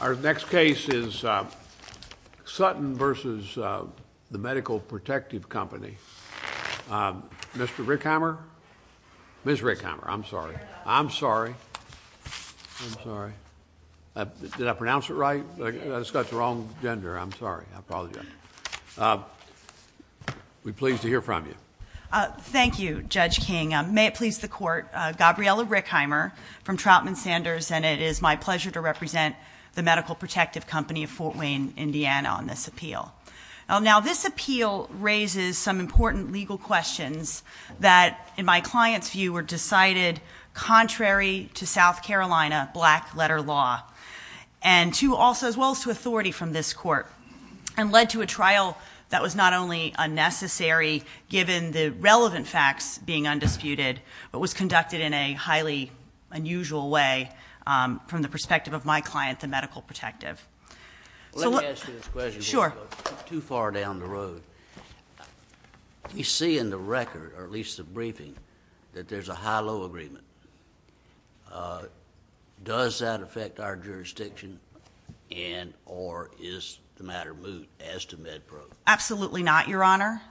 Our next case is Sutton v. The Medical Protective Company. Mr. Rickheimer? Ms. Rickheimer. I'm sorry. I'm sorry. I'm sorry. Did I pronounce it right? I just got the wrong gender. I'm sorry. I apologize. We're pleased to hear from you. Thank you, Judge King. May it please the Court. Gabriela Rickheimer from Troutman Sanders. It is my pleasure to represent the Medical Protective Company of Fort Wayne, Indiana on this appeal. This appeal raises some important legal questions that, in my client's view, were decided contrary to South Carolina black-letter law as well as to authority from this Court and led to a trial that was not only unnecessary given the relevant facts being undisputed but was conducted in a highly unusual way from the perspective of my client, the medical protective. Let me ask you this question before we go too far down the road. We see in the record, or at least the briefing, that there's a high-low agreement. Does that affect our jurisdiction and or is the matter moot as to MedPro? Absolutely not, Your Honor.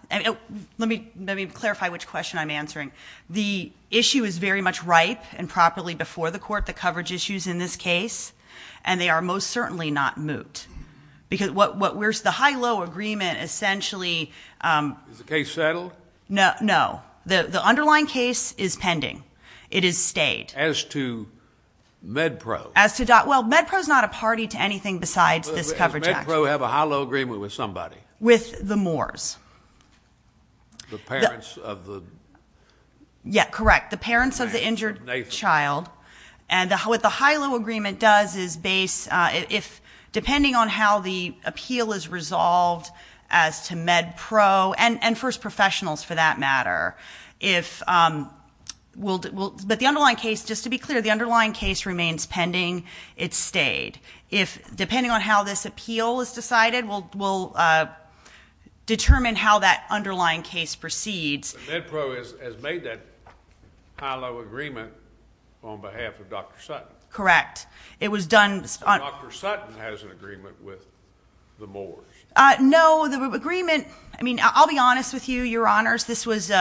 Let me clarify which question I'm answering. The issue is very much ripe and properly before the Court, the coverage issues in this case, and they are most certainly not moot because the high-low agreement essentially... Is the case settled? No. The underlying case is pending. It is stayed. As to MedPro? As to... Well, MedPro's not a party to anything besides this coverage action. Does MedPro have a high-low agreement with somebody? With the Moores. The parents of the... Yeah, correct. The parents of the injured child. And what the high-low agreement does is base... But the underlying case, just to be clear, the underlying case remains pending. It's stayed. Depending on how this appeal is decided, we'll determine how that underlying case proceeds. MedPro has made that high-low agreement on behalf of Dr. Sutton. Correct. It was done... Dr. Sutton has an agreement with the Moores. No, the agreement... I mean, I'll be honest with you, Your Honors, this was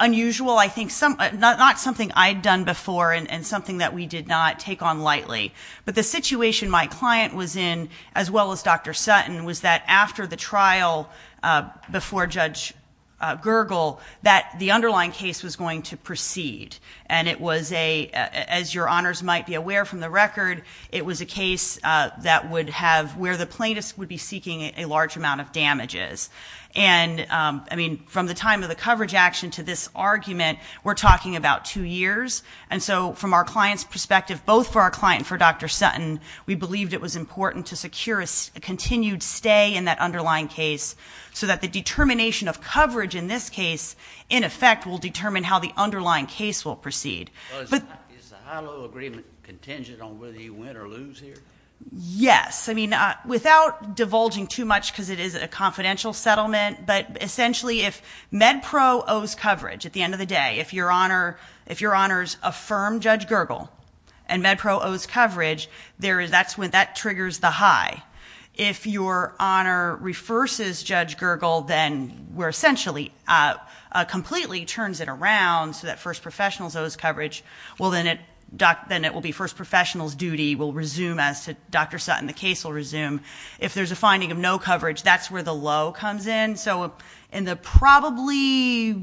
unusual. I think not something I'd done before and something that we did not take on lightly. But the situation my client was in, as well as Dr. Sutton, was that after the trial before Judge Gergel, that the underlying case was going to proceed. And it was a... As Your Honors might be aware from the record, it was a case that would have... where the plaintiff would be seeking a large amount of damages. And, I mean, from the time of the coverage action to this argument, we're talking about two years. And so, from our client's perspective, both for our client and for Dr. Sutton, we believed it was important to secure a continued stay in that underlying case, so that the determination of coverage in this case, in effect, will determine how the underlying case will proceed. Is the high-low agreement contingent on whether you win or lose here? Yes. I mean, without divulging too much, because it is a confidential settlement, but, essentially, if MedPro owes coverage at the end of the day, if Your Honors affirmed Judge Gergel and MedPro owes coverage, that's when that triggers the high. If Your Honor reverses Judge Gergel, then, where, essentially, completely turns it around so that First Professionals owes coverage, well, then it will be First Professionals' duty will resume as to Dr. Sutton. The case will resume. If there's a finding of no coverage, that's where the low comes in. So, in the probably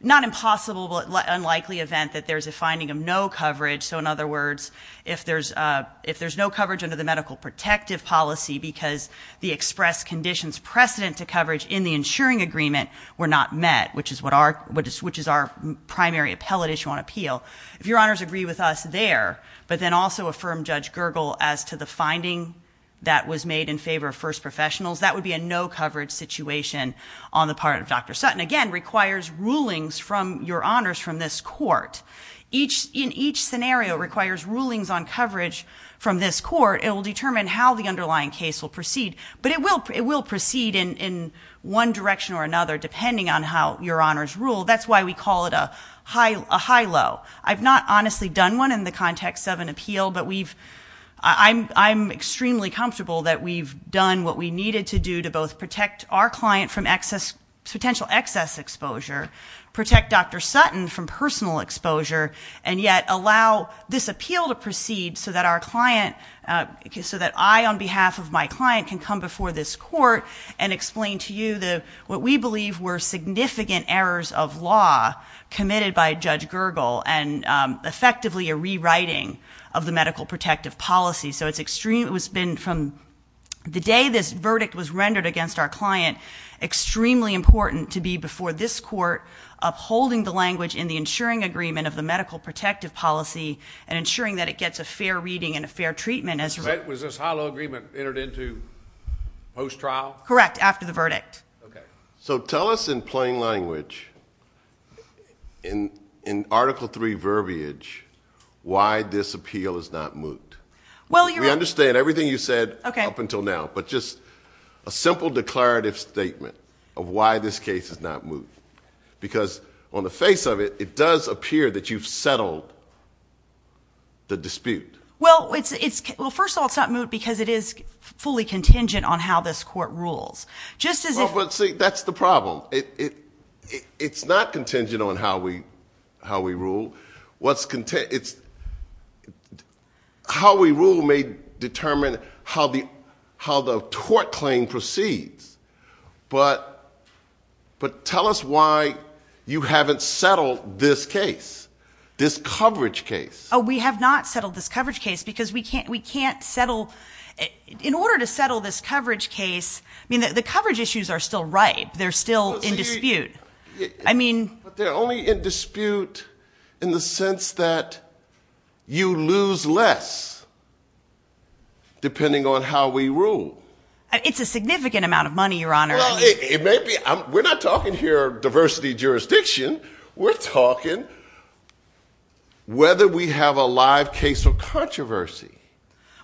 not impossible but unlikely event that there's a finding of no coverage, so, in other words, if there's no coverage under the medical protective policy because the express conditions precedent to coverage in the insuring agreement were not met, which is our primary appellate issue on appeal, if Your Honors agree with us there but then also affirm Judge Gergel as to the finding that was made in favor of First Professionals, that would be a no coverage situation on the part of Dr. Sutton. Again, requires rulings from Your Honors from this court. In each scenario, it requires rulings on coverage from this court. It will determine how the underlying case will proceed, but it will proceed in one direction or another depending on how Your Honors rule. That's why we call it a high low. I've not honestly done one in the context of an appeal, but I'm extremely comfortable that we've done what we needed to do to both protect our client from potential excess exposure, protect Dr. Sutton from personal exposure, and yet allow this appeal to proceed so that I, on behalf of my client, can come before this court and explain to you what we believe were significant errors of law committed by Judge Gergel and effectively a rewriting of the medical protective policy. It's been, from the day this verdict was rendered against our client, extremely important to be before this court upholding the language in the ensuring agreement of the medical protective policy and ensuring that it gets a fair reading and a fair treatment. Was this high low agreement entered into post-trial? Correct, after the verdict. So tell us in plain language, in Article III verbiage, why this appeal is not moot. We understand everything you said up until now, but just a simple declarative statement of why this case is not moot, because on the face of it, it does appear that you've settled the dispute. Well, first of all, it's not moot because it is fully contingent on how this court rules. See, that's the problem. It's not contingent on how we rule. It's how we rule may determine how the tort claim proceeds. But tell us why you haven't settled this case, this coverage case. Oh, we have not settled this coverage case because we can't settle. In order to settle this coverage case, the coverage issues are still ripe. They're still in dispute. But they're only in dispute in the sense that you lose less depending on how we rule. It's a significant amount of money, Your Honor. We're not talking here diversity jurisdiction. We're talking whether we have a live case of controversy.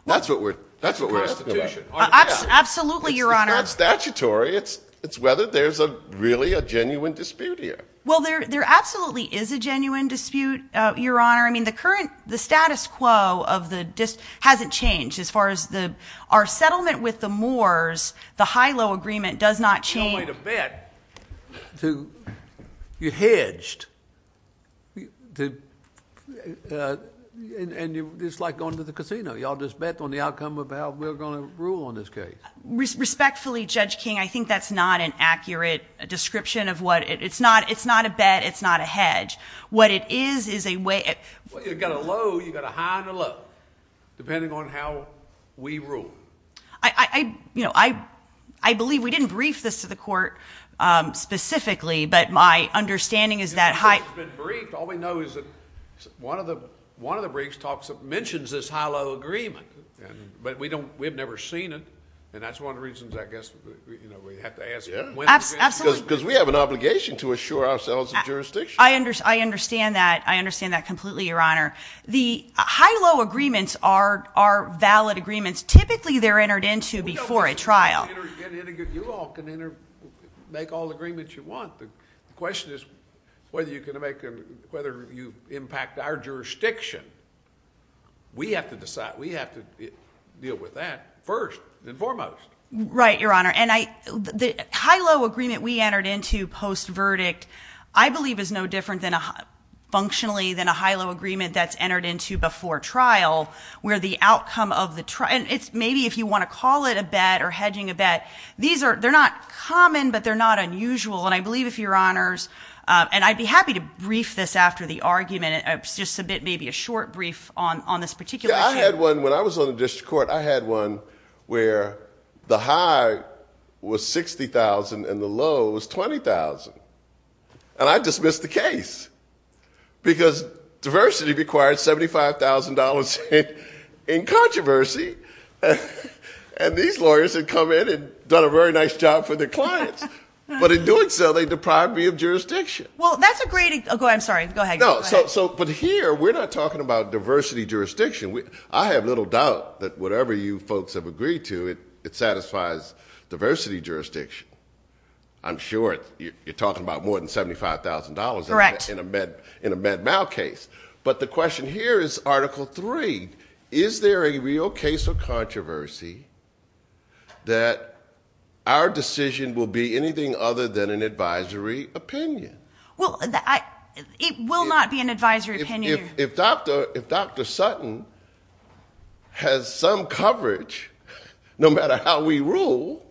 That's what we're asking about. Absolutely, Your Honor. It's not statutory. It's whether there's really a genuine dispute here. Well, there absolutely is a genuine dispute, Your Honor. I mean, the status quo of the dispute hasn't changed. As far as our settlement with the Moors, the Hilo agreement does not change. There's no way to bet. You're hedged. And it's like going to the casino. You all just bet on the outcome of how we're going to rule on this case. Respectfully, Judge King, I think that's not an accurate description of what... It's not a bet. It's not a hedge. What it is, is a way... Well, you've got a low. You've got a high and a low, depending on how we rule. I believe... We didn't brief this to the court specifically, but my understanding is that... It's been briefed. All we know is that one of the briefs mentions this Hilo agreement, but we have never seen it, and that's one of the reasons, I guess, we have to ask... Absolutely. Because we have an obligation to assure ourselves of jurisdiction. I understand that. I understand that completely, Your Honor. The Hilo agreements are valid agreements. Typically, they're entered into before a trial. You all can make all the agreements you want. The question is whether you impact our jurisdiction. We have to decide. We have to deal with that first and foremost. Right, Your Honor. The Hilo agreement we entered into post-verdict, I believe, is no different functionally than a Hilo agreement that's entered into before trial, where the outcome of the... Maybe if you want to call it a bet or hedging a bet, they're not common, but they're not unusual. I believe, if Your Honors... I'd be happy to brief this after the argument, just maybe a short brief on this particular issue. Yeah, I had one. When I was on the district court, I had one where the high was $60,000 and the low was $20,000, and I dismissed the case because diversity requires $75,000 in controversy, and these lawyers had come in and done a very nice job for their clients. But in doing so, they deprived me of jurisdiction. Well, that's a great... I'm sorry. Go ahead. But here, we're not talking about diversity jurisdiction. I have little doubt that whatever you folks have agreed to, it satisfies diversity jurisdiction. I'm sure you're talking about more than $75,000 in a med mal case. Correct. But the question here is Article III. Is there a real case of controversy that our decision will be anything other than an advisory opinion? Well, it will not be an advisory opinion. If Dr. Sutton has some coverage, no matter how we rule,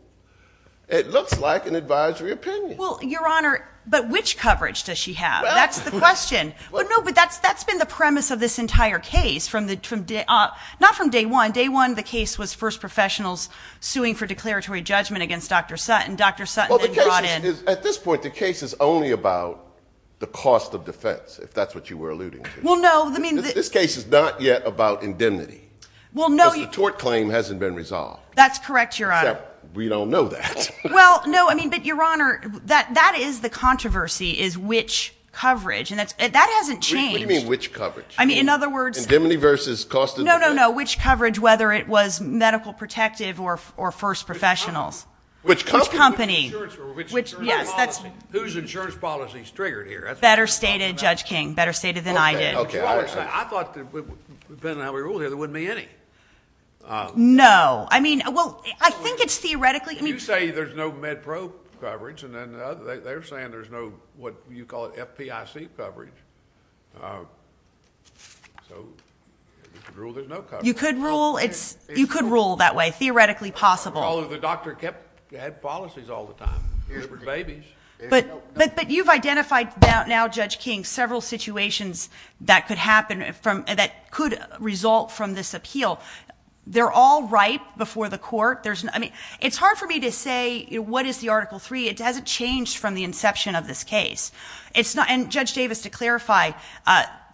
it looks like an advisory opinion. Well, Your Honor, but which coverage does she have? That's the question. No, but that's been the premise of this entire case, not from day one. Day one, the case was first professionals suing for declaratory judgment against Dr. Sutton. Dr. Sutton then brought in... At this point, the case is only about the cost of defense, if that's what you were alluding to. Well, no. This case is not yet about indemnity. Well, no. Because the tort claim hasn't been resolved. That's correct, Your Honor. Except we don't know that. But, Your Honor, that is the controversy, is which coverage. And that hasn't changed. What do you mean, which coverage? I mean, in other words... Indemnity versus cost of defense? No, no, no. Which coverage, whether it was medical protective or first professionals. Which company? Which company. Whose insurance policy is triggered here? That's better stated, Judge King, better stated than I did. I thought, depending on how we rule here, there wouldn't be any. No. I mean, well, I think it's theoretically... You say there's no MedPro coverage, and then they're saying there's no, what you call it, FPIC coverage. So, you could rule there's no coverage. You could rule that way, theoretically possible. Although, the doctor kept... had policies all the time. There were babies. But you've identified now, Judge King, several situations that could result from this appeal. They're all ripe before the court. I mean, it's hard for me to say what is the Article III. It hasn't changed from the inception of this case. And, Judge Davis, to clarify,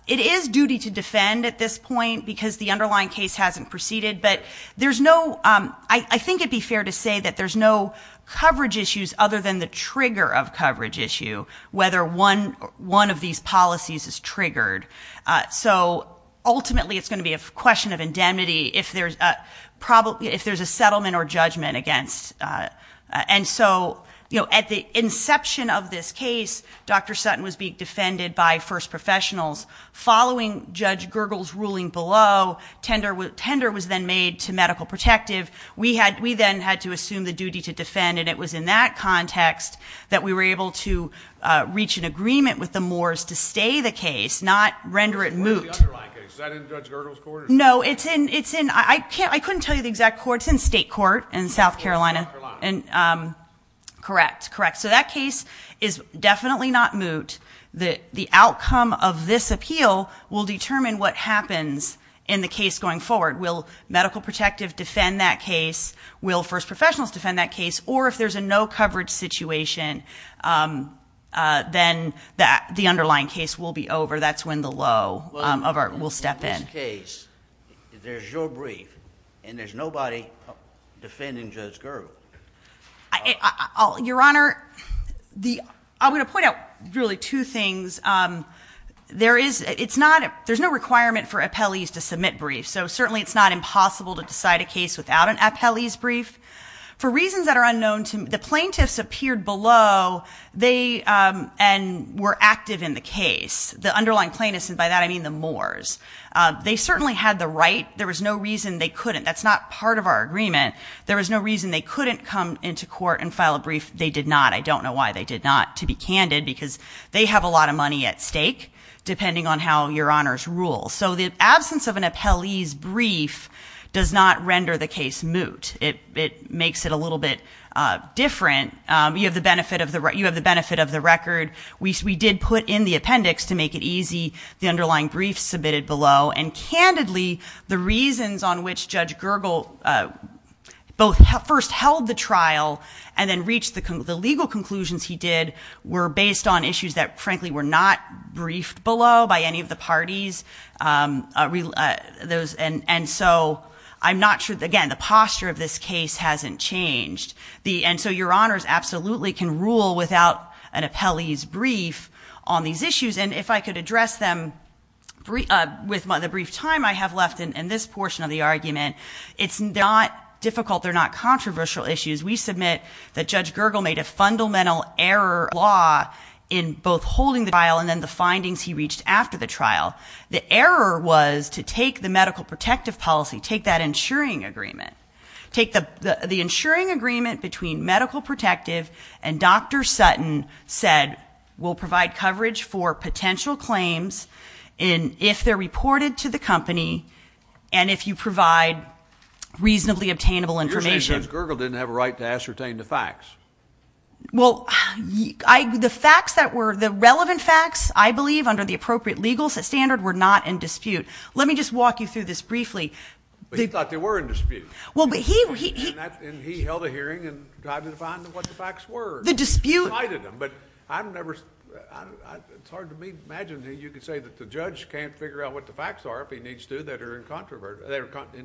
it is duty to defend at this point because the underlying case hasn't proceeded. But there's no... I think it'd be fair to say that there's no coverage issues other than the trigger of coverage issue, whether one of these policies is triggered. So, ultimately, it's going to be a question of indemnity. If there's a settlement or judgment against... And so, at the inception of this case, Dr. Sutton was being defended by first professionals. Following Judge Gergel's ruling below, tender was then made to Medical Protective. We then had to assume the duty to defend. And it was in that context that we were able to reach an agreement with the Moores to stay the case, not render it moot. Where's the underlying case? Is that in Judge Gergel's court? No, it's in... I couldn't tell you the exact court. It's in state court in South Carolina. South Carolina. Correct. Correct. So, that case is definitely not moot. The outcome of this appeal will determine what happens in the case going forward. Will Medical Protective defend that case? Will first professionals defend that case? Or, if there's a no coverage situation, then the underlying case will be over. That's when the low will step in. In this case, there's your brief, and there's nobody defending Judge Gergel. Your Honor, I'm going to point out really two things. There's no requirement for appellees to submit briefs, so certainly it's not impossible to decide a case without an appellee's brief. For reasons that are unknown to me, the plaintiffs appeared below, and were active in the case. The underlying plaintiffs, and by that I mean the Moors, they certainly had the right. There was no reason they couldn't. That's not part of our agreement. There was no reason they couldn't come into court and file a brief. They did not. I don't know why they did not. To be candid, because they have a lot of money at stake, depending on how your Honors rules. So, the absence of an appellee's brief does not render the case moot. It makes it a little bit different. You have the benefit of the record. We did put in the appendix to make it easy, the underlying briefs submitted below, and candidly, the reasons on which Judge Gergel both first held the trial, and then reached the legal conclusions he did, were based on issues that, frankly, were not briefed below by any of the parties. And so, I'm not sure, again, the posture of this case hasn't changed. And so, your Honors absolutely can rule without an appellee's brief on these issues. And if I could address them with the brief time I have left in this portion of the argument, it's not difficult. They're not controversial issues. We submit that Judge Gergel made a fundamental error law in both holding the trial and then the findings he reached after the trial. The error was to take the medical protective policy, take that insuring agreement, take the insuring agreement between medical protective and Dr. Sutton said will provide coverage for potential claims if they're reported to the company and if you provide reasonably obtainable information. You're saying Judge Gergel didn't have a right to ascertain the facts. Well, the facts that were the relevant facts, I believe, under the appropriate legal standard, were not in dispute. Let me just walk you through this briefly. He thought they were in dispute. And he held a hearing and tried to define what the facts were. He cited them, but I've never, it's hard to imagine that you could say that the judge can't figure out what the facts are if he needs to that are in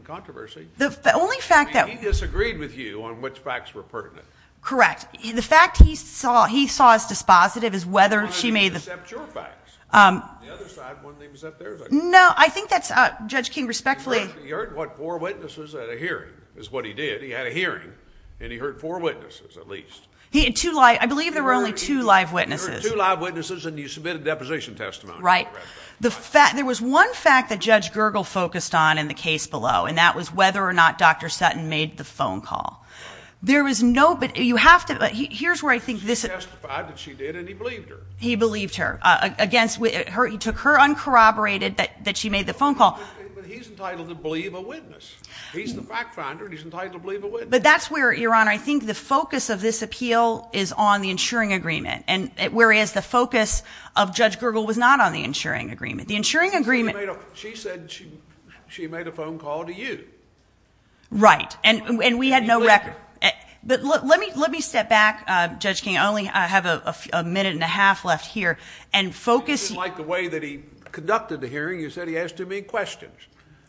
controversy. The only fact that- He disagreed with you on which facts were pertinent. Correct. The fact he saw as dispositive is whether she made the- He wanted to decept your facts. The other side wanted to decept theirs. No, I think that's, Judge King, respectfully- He heard, what, four witnesses at a hearing is what he did. He had a hearing and he heard four witnesses at least. He had two live, I believe there were only two live witnesses. He heard two live witnesses and he submitted a deposition testimony. Right. There was one fact that Judge Gergel focused on in the case below and that was whether or not Dr. Sutton made the phone call. There was no, but you have to, here's where I think this- She testified that she did and he believed her. He believed her against, he took her uncorroborated that she made the phone call. But he's entitled to believe a witness. He's the fact finder and he's entitled to believe a witness. But that's where, Your Honor, I think the focus of this appeal is on the insuring agreement whereas the focus of Judge Gergel was not on the insuring agreement. The insuring agreement- She said she made a phone call to you. Right, and we had no record. But let me step back, Judge King, I only have a minute and a half left here and focus- I don't like the way that he conducted the hearing. You said he asked too many questions.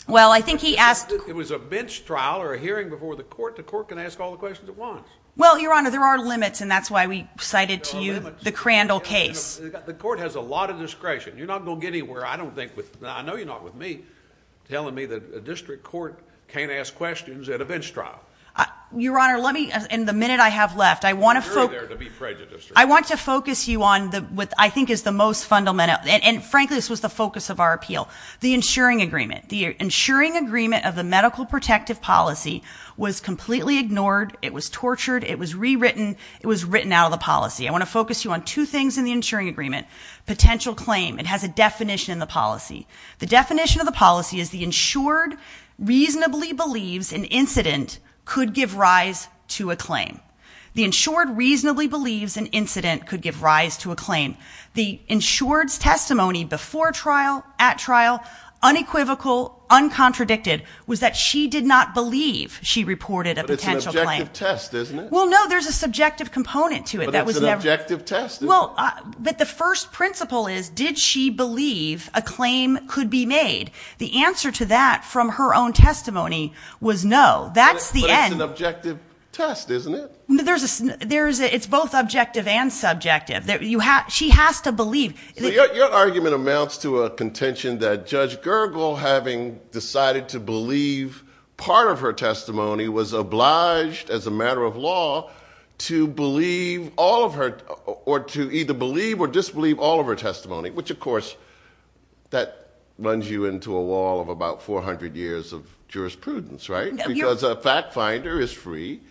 Well, I think he asked- It was a bench trial or a hearing before the court. The court can ask all the questions it wants. Well, Your Honor, there are limits and that's why we cited to you the Crandall case. The court has a lot of discretion. You're not going to get anywhere, I don't think, I know you're not with me, telling me that a district court can't ask questions at a bench trial. Your Honor, let me, in the minute I have left, I want to focus- You're there to be prejudiced. I want to focus you on what I think is the most fundamental, and frankly this was the focus of our appeal, the insuring agreement. The insuring agreement of the medical protective policy was completely ignored, it was tortured, it was rewritten, it was written out of the policy. I want to focus you on two things in the insuring agreement. Potential claim, it has a definition in the policy. The definition of the policy is the insured reasonably believes an incident could give rise to a claim. The insured reasonably believes an incident could give rise to a claim. The insured's testimony before trial, at trial, unequivocal, uncontradicted was that she did not believe she reported a potential claim. But it's an objective test, isn't it? Well, no, there's a subjective component to it that was never- But it's an objective test, isn't it? But the first principle is, did she believe a claim could be made? The answer to that from her own testimony was no. That's the end- It's both objective and subjective. She has to believe- Your argument amounts to a contention that Judge Gergel, having decided to believe part of her testimony, was obliged, as a matter of law, to believe all of her- or to either believe or disbelieve all of her testimony, which, of course, that runs you into a wall of about 400 years of jurisprudence, right? Because a fact finder is free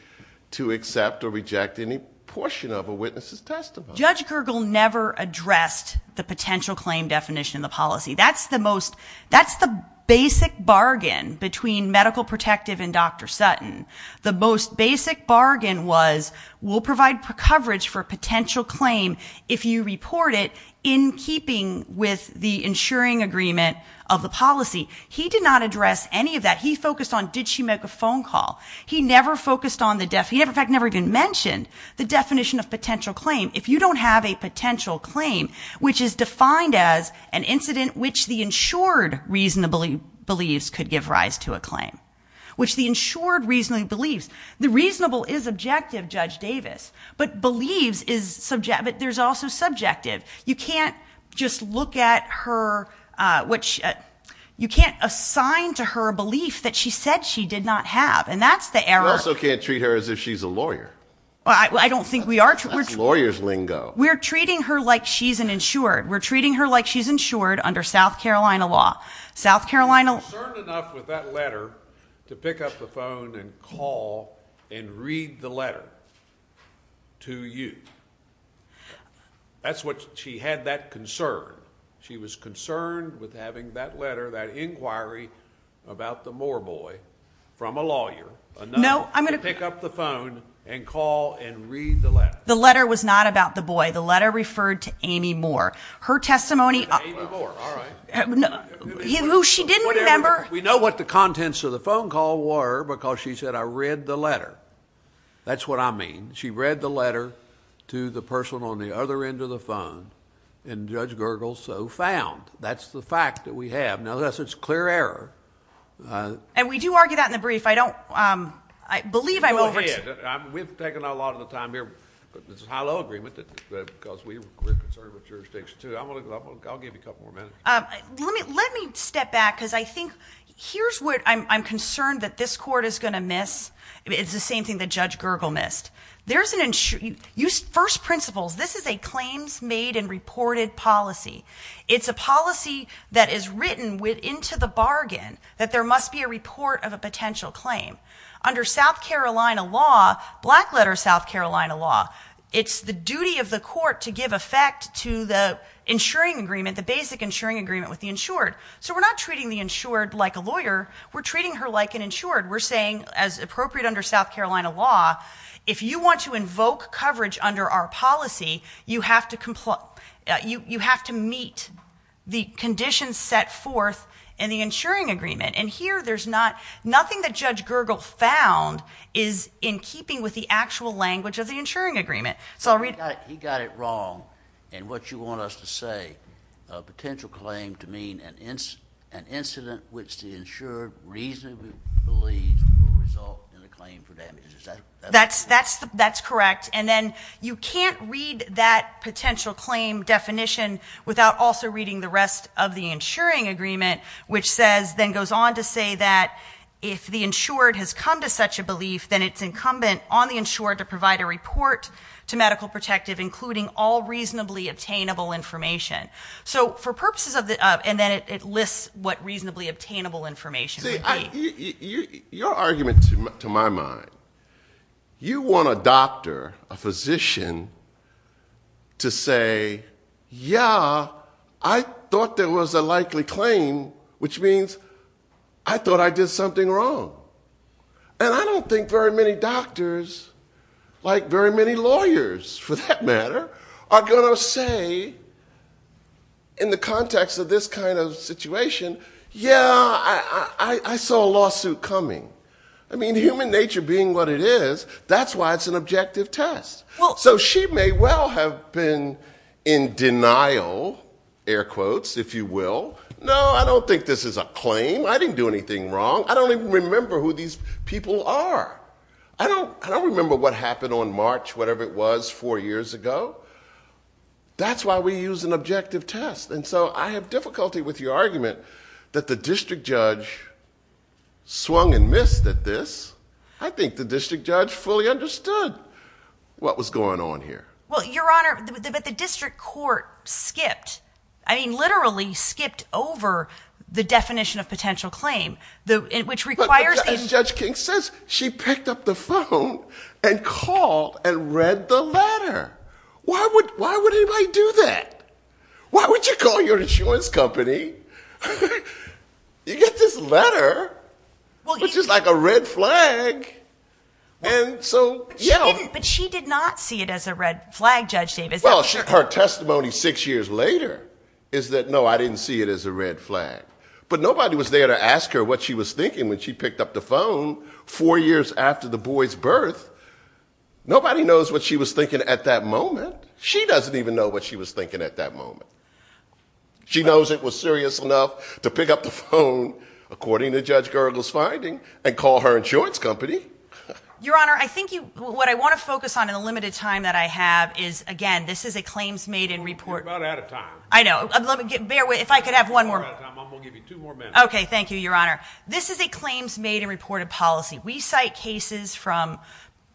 to accept or reject any portion of a witness' testimony. Judge Gergel never addressed the potential claim definition in the policy. That's the most- That's the basic bargain between Medical Protective and Dr. Sutton. The most basic bargain was, we'll provide coverage for a potential claim if you report it, in keeping with the insuring agreement of the policy. He did not address any of that. He focused on, did she make a phone call? He never focused on the- He, in fact, never even mentioned the definition of potential claim. If you don't have a potential claim, which is defined as an incident which the insured reasonably believes could give rise to a claim, which the insured reasonably believes- The reasonable is objective, Judge Davis, but believes is- But there's also subjective. You can't just look at her- You can't assign to her a belief that she said she did not have, and that's the error- You also can't treat her as if she's a lawyer. I don't think we are- That's a lawyer's lingo. We're treating her like she's an insured. We're treating her like she's insured under South Carolina law. South Carolina- She was concerned enough with that letter to pick up the phone and call and read the letter to you. She had that concern. She was concerned with having that letter, that inquiry about the Moore boy from a lawyer- No, I'm going to- To pick up the phone and call and read the letter. The letter was not about the boy. The letter referred to Amy Moore. Her testimony- Amy Moore, all right. Who she didn't remember- We know what the contents of the phone call were because she said, I read the letter. That's what I mean. She read the letter to the person on the other end of the phone, and Judge Gergel so found. That's the fact that we have. Now, that's a clear error. And we do argue that in the brief. I don't- I believe I'm over to- We've taken a lot of the time here. It's a high-low agreement because we're concerned with jurisdiction, too. I'll give you a couple more minutes. Let me step back because I think here's what I'm concerned that this court is going to miss. It's the same thing that Judge Gergel missed. There's an- First principles. This is a claims-made-and-reported policy. It's a policy that is written into the bargain that there must be a report of a potential claim. Under South Carolina law, black-letter South Carolina law, it's the duty of the court to give effect to the insuring agreement, the basic insuring agreement with the insured. So we're not treating the insured like a lawyer. We're treating her like an insured. We're saying, as appropriate under South Carolina law, if you want to invoke coverage under our policy, you have to meet the conditions set forth in the insuring agreement. And here there's not- Nothing that Judge Gergel found is in keeping with the actual language of the insuring agreement. So I'll read- He got it wrong in what you want us to say, a potential claim to mean an incident which the insured reasonably believes will result in a claim for damages. That's correct. And then you can't read that potential claim definition without also reading the rest of the insuring agreement, which then goes on to say that if the insured has come to such a belief, then it's incumbent on the insured to provide a report to Medical Protective, including all reasonably obtainable information. And then it lists what reasonably obtainable information would be. Your argument, to my mind, you want a doctor, a physician, to say, yeah, I thought there was a likely claim, which means I thought I did something wrong. And I don't think very many doctors, like very many lawyers for that matter, are going to say in the context of this kind of situation, yeah, I saw a lawsuit coming. I mean, human nature being what it is, that's why it's an objective test. So she may well have been in denial, air quotes, if you will. No, I don't think this is a claim. I didn't do anything wrong. I don't even remember who these people are. I don't remember what happened on March, whatever it was, four years ago. That's why we use an objective test. And so I have difficulty with your argument that the district judge swung and missed at this. I think the district judge fully understood what was going on here. Well, Your Honor, but the district court skipped. I mean, literally skipped over the definition of potential claim, which requires these. It says she picked up the phone and called and read the letter. Why would anybody do that? Why would you call your insurance company? You get this letter, which is like a red flag. But she did not see it as a red flag, Judge Davis. Well, her testimony six years later is that, no, I didn't see it as a red flag. But nobody was there to ask her what she was thinking when she picked up the phone four years after the boy's birth. Nobody knows what she was thinking at that moment. She doesn't even know what she was thinking at that moment. She knows it was serious enough to pick up the phone, according to Judge Gergel's finding, and call her insurance company. Your Honor, I think what I want to focus on in the limited time that I have is, again, this is a claims made in report. You're about out of time. I know. If I could have one more. I'm going to give you two more minutes. Okay, thank you, Your Honor. This is a claims made in reported policy. We cite cases from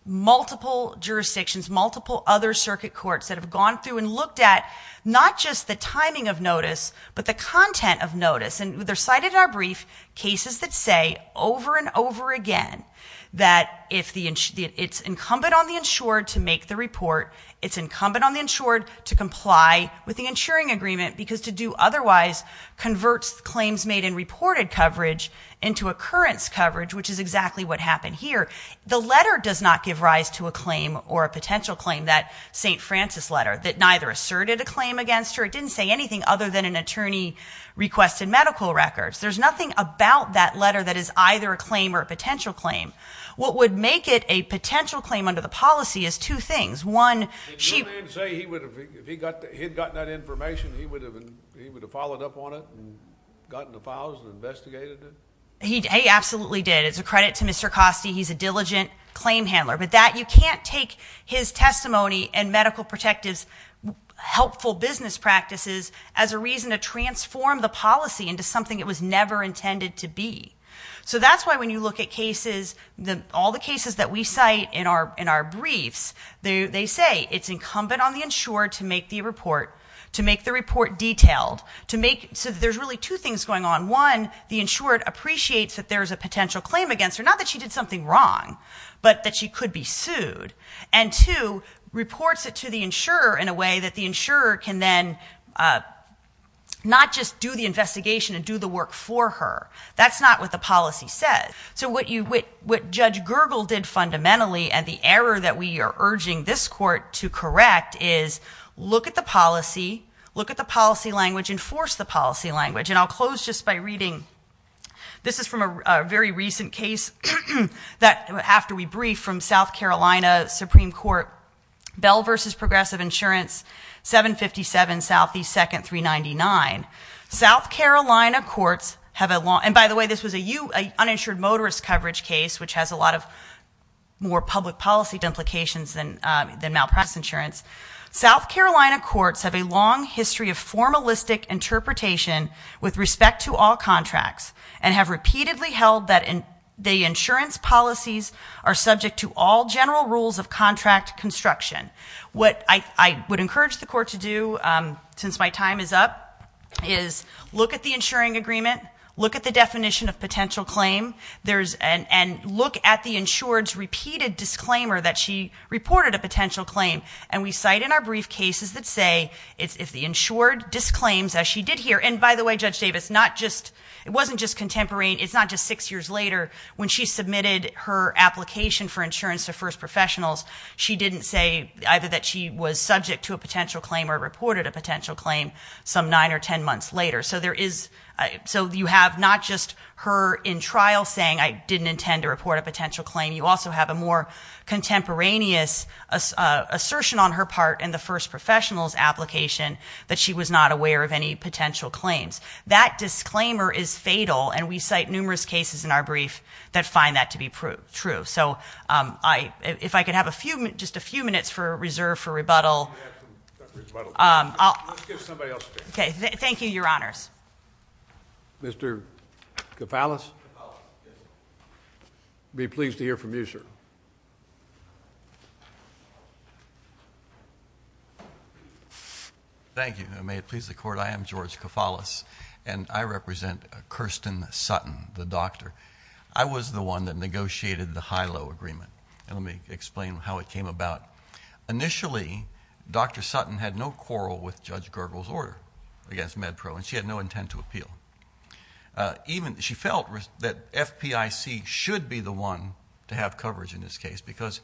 multiple jurisdictions, multiple other circuit courts that have gone through and looked at not just the timing of notice, but the content of notice. And they're cited in our brief cases that say over and over again that it's incumbent on the insured to make the report. It's incumbent on the insured to comply with the insuring agreement because to do otherwise converts claims made in reported coverage into occurrence coverage, which is exactly what happened here. The letter does not give rise to a claim or a potential claim, that St. Francis letter, that neither asserted a claim against her. It didn't say anything other than an attorney requested medical records. There's nothing about that letter that is either a claim or a potential claim. What would make it a potential claim under the policy is two things. One, she- Did your man say if he had gotten that information, he would have followed up on it and gotten the files and investigated it? He absolutely did. It's a credit to Mr. Coste. He's a diligent claim handler. But that you can't take his testimony and medical protective's helpful business practices as a reason to transform the policy into something it was never intended to be. So that's why when you look at cases, all the cases that we cite in our briefs, they say it's incumbent on the insured to make the report detailed. So there's really two things going on. One, the insured appreciates that there's a potential claim against her, not that she did something wrong, but that she could be sued. And two, reports it to the insurer in a way that the insurer can then not just do the investigation and do the work for her. That's not what the policy says. So what Judge Gergel did fundamentally and the error that we are urging this court to correct is look at the policy, look at the policy language, enforce the policy language. And I'll close just by reading. This is from a very recent case that after we briefed from South Carolina Supreme Court. Bell versus Progressive Insurance, 757 Southeast 2nd, 399. South Carolina courts have a long, and by the way, this was a uninsured motorist coverage case, which has a lot of more public policy implications than malpractice insurance. South Carolina courts have a long history of formalistic interpretation with respect to all contracts, and have repeatedly held that the insurance policies are subject to all general rules of contract construction. What I would encourage the court to do, since my time is up, is look at the insuring agreement, look at the definition of potential claim, and look at the insured's repeated disclaimer that she reported a potential claim. And we cite in our brief cases that say, if the insured disclaims, as she did here. And by the way, Judge Davis, it wasn't just contemporary, it's not just six years later. When she submitted her application for insurance to first professionals, she didn't say either that she was subject to a potential claim or reported a potential claim some nine or ten months later. So you have not just her in trial saying, I didn't intend to report a potential claim. You also have a more contemporaneous assertion on her part in the first professional's application, that she was not aware of any potential claims. That disclaimer is fatal, and we cite numerous cases in our brief that find that to be true. So if I could have just a few minutes for reserve for rebuttal. Let's give somebody else a chance. Okay, thank you, your honors. Mr. Cofalis? Cofalis, yes. I'd be pleased to hear from you, sir. Thank you, and may it please the Court, I am George Cofalis, and I represent Kirsten Sutton, the doctor. I was the one that negotiated the HILO agreement, and let me explain how it came about. Initially, Dr. Sutton had no quarrel with Judge Gergel's order against MedPro, and she had no intent to appeal. She felt that FPIC should be the one to have coverage in this case, because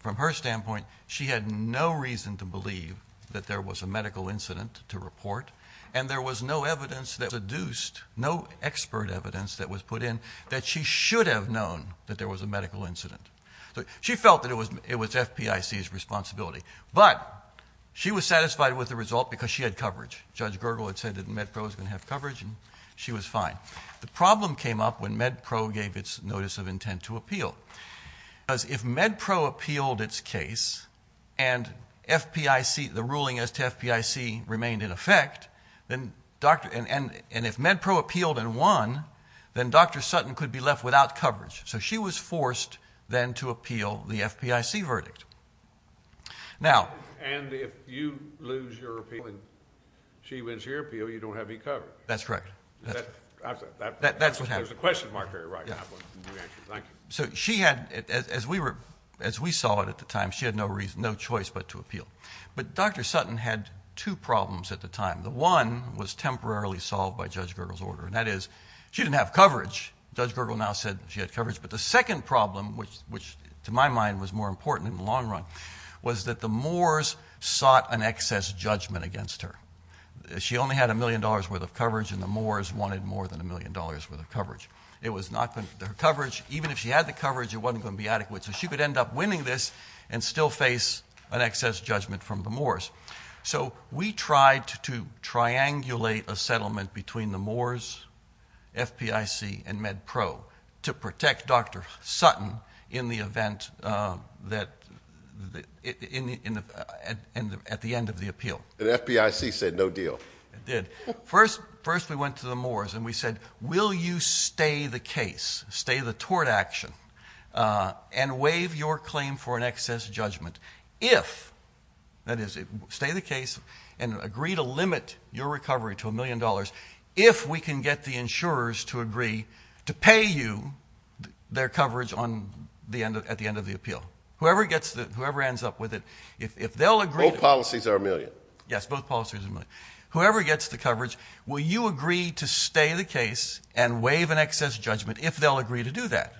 from her standpoint, she had no reason to believe that there was a medical incident to report, and there was no evidence that was seduced, no expert evidence that was put in, that she should have known that there was a medical incident. She felt that it was FPIC's responsibility, but she was satisfied with the result because she had coverage. Judge Gergel had said that MedPro was going to have coverage, and she was fine. The problem came up when MedPro gave its notice of intent to appeal, because if MedPro appealed its case and the ruling as to FPIC remained in effect, and if MedPro appealed and won, then Dr. Sutton could be left without coverage. So she was forced then to appeal the FPIC verdict. And if you lose your appeal and she wins her appeal, you don't have any coverage. That's correct. That's what happened. There's a question mark there. Thank you. As we saw it at the time, she had no choice but to appeal. But Dr. Sutton had two problems at the time. The one was temporarily solved by Judge Gergel's order, and that is she didn't have coverage. Judge Gergel now said she had coverage. But the second problem, which to my mind was more important in the long run, was that the Moors sought an excess judgment against her. She only had a million dollars' worth of coverage, and the Moors wanted more than a million dollars' worth of coverage. Even if she had the coverage, it wasn't going to be adequate, so she could end up winning this and still face an excess judgment from the Moors. So we tried to triangulate a settlement between the Moors, FPIC, and MedPro to protect Dr. Sutton at the end of the appeal. The FPIC said no deal. It did. First we went to the Moors and we said, will you stay the case, stay the tort action, and waive your claim for an excess judgment if, that is, stay the case and agree to limit your recovery to a million dollars, if we can get the insurers to agree to pay you their coverage at the end of the appeal? Whoever ends up with it, if they'll agree to it. Both policies are a million. Yes, both policies are a million. Whoever gets the coverage, will you agree to stay the case and waive an excess judgment if they'll agree to do that?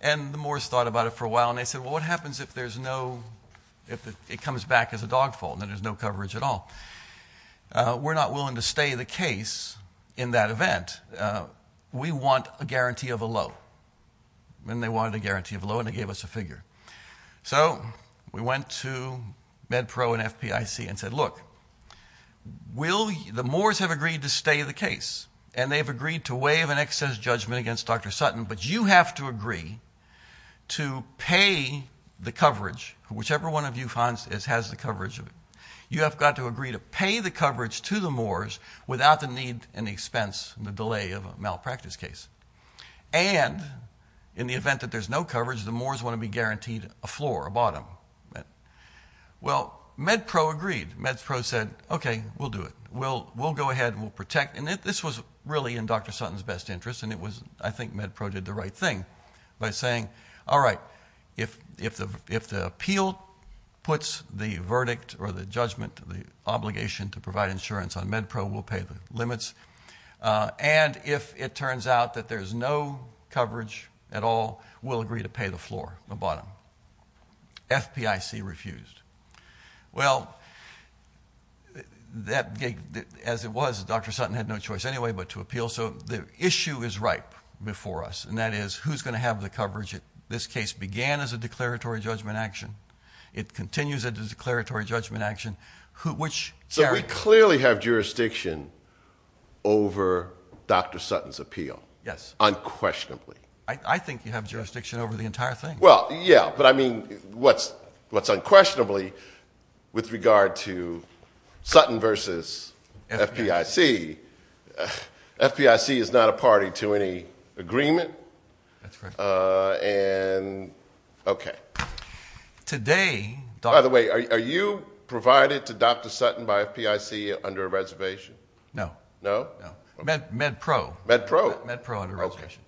And the Moors thought about it for a while, and they said, well, what happens if it comes back as a dog fault and there's no coverage at all? We're not willing to stay the case in that event. We want a guarantee of a low. And they wanted a guarantee of a low, and they gave us a figure. So we went to MedPro and FPIC and said, look, the Moors have agreed to stay the case, and they've agreed to waive an excess judgment against Dr. Sutton, but you have to agree to pay the coverage, whichever one of you has the coverage, you have got to agree to pay the coverage to the Moors without the need and expense and the delay of a malpractice case. And in the event that there's no coverage, the Moors want to be guaranteed a floor, a bottom. Well, MedPro agreed. MedPro said, okay, we'll do it. We'll go ahead and we'll protect. And this was really in Dr. Sutton's best interest, and I think MedPro did the right thing by saying, all right, if the appeal puts the verdict or the judgment, the obligation to provide insurance on MedPro, we'll pay the limits. And if it turns out that there's no coverage at all, we'll agree to pay the floor, the bottom. FPIC refused. Well, as it was, Dr. Sutton had no choice anyway but to appeal. So the issue is ripe before us, and that is who's going to have the coverage? This case began as a declaratory judgment action. It continues as a declaratory judgment action. So we clearly have jurisdiction over Dr. Sutton's appeal? Yes. Unquestionably. I think you have jurisdiction over the entire thing. Well, yeah, but, I mean, what's unquestionably with regard to Sutton versus FPIC, FPIC is not a party to any agreement. That's correct. Okay. By the way, are you provided to Dr. Sutton by FPIC under a reservation? No. No? No. MedPro. MedPro? MedPro under a reservation.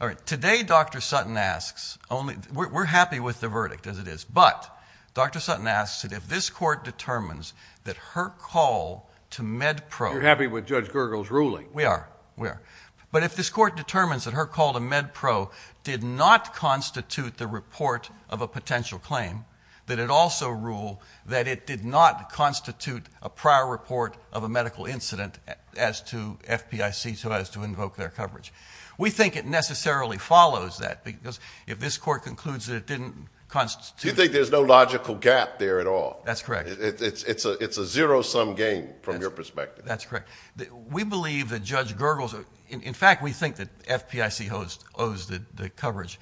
All right. Today Dr. Sutton asks only we're happy with the verdict as it is, but Dr. Sutton asks that if this court determines that her call to MedPro. You're happy with Judge Gergel's ruling? We are. We are. But if this court determines that her call to MedPro did not constitute the report of a potential claim, that it also rule that it did not constitute a prior report of a medical incident as to FPIC, so as to invoke their coverage. We think it necessarily follows that because if this court concludes that it didn't constitute. You think there's no logical gap there at all? That's correct. It's a zero-sum game from your perspective. That's correct. We believe that Judge Gergel's, in fact, we think that FPIC owes the coverage.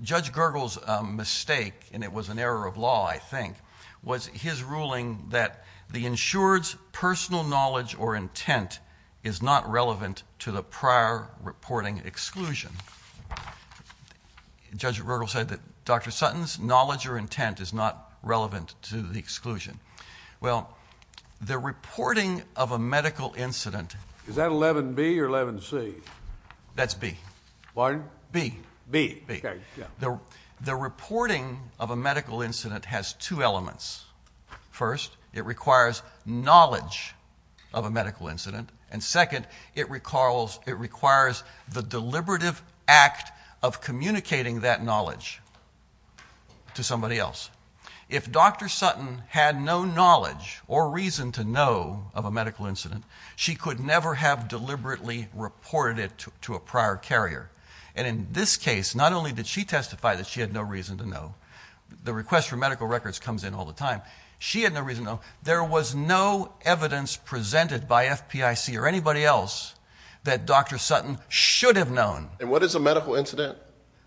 Judge Gergel's mistake, and it was an error of law, I think, was his ruling that the insured's personal knowledge or intent is not relevant to the prior reporting exclusion. Judge Gergel said that Dr. Sutton's knowledge or intent is not relevant to the exclusion. Well, the reporting of a medical incident. Is that 11B or 11C? That's B. Pardon? B. B. Okay. The reporting of a medical incident has two elements. First, it requires knowledge of a medical incident, and second, it requires the deliberative act of communicating that knowledge to somebody else. If Dr. Sutton had no knowledge or reason to know of a medical incident, she could never have deliberately reported it to a prior carrier. And in this case, not only did she testify that she had no reason to know. The request for medical records comes in all the time. She had no reason to know. There was no evidence presented by FPIC or anybody else that Dr. Sutton should have known. And what is a medical incident?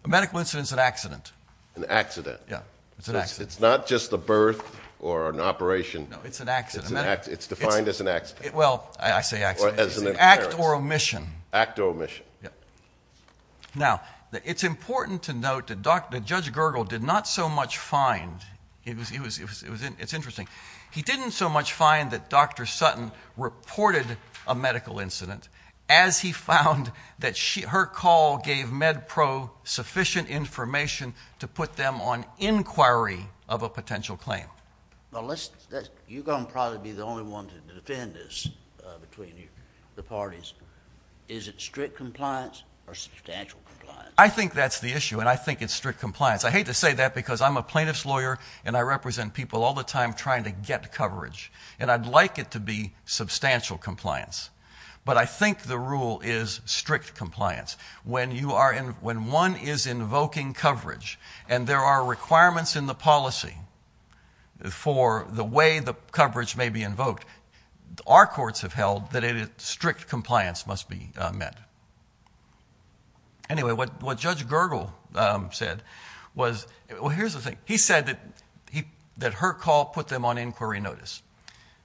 A medical incident is an accident. An accident. Yeah. It's an accident. It's not just a birth or an operation. No, it's an accident. It's defined as an accident. Well, I say accident. Act or omission. Act or omission. Now, it's important to note that Judge Gergel did not so much find, it's interesting, he didn't so much find that Dr. Sutton reported a medical incident as he found that her call gave MedPro sufficient information to put them on inquiry of a potential claim. You're going to probably be the only one to defend this between the parties. Is it strict compliance or substantial compliance? I think that's the issue, and I think it's strict compliance. I hate to say that because I'm a plaintiff's lawyer and I represent people all the time trying to get coverage, and I'd like it to be substantial compliance. But I think the rule is strict compliance. When one is invoking coverage, our courts have held that strict compliance must be met. Anyway, what Judge Gergel said was, well, here's the thing. He said that her call put them on inquiry notice.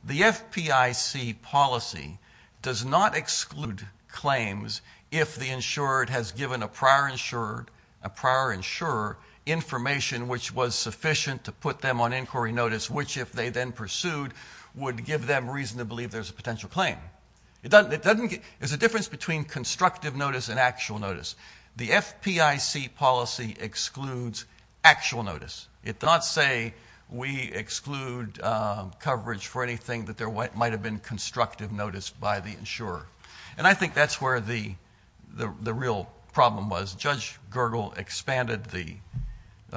The FPIC policy does not exclude claims if the insurer has given a prior insurer information which was sufficient to put them on inquiry notice, which if they then pursued would give them reason to believe there's a potential claim. There's a difference between constructive notice and actual notice. The FPIC policy excludes actual notice. It does not say we exclude coverage for anything that might have been constructive notice by the insurer. And I think that's where the real problem was. Judge Gergel expanded the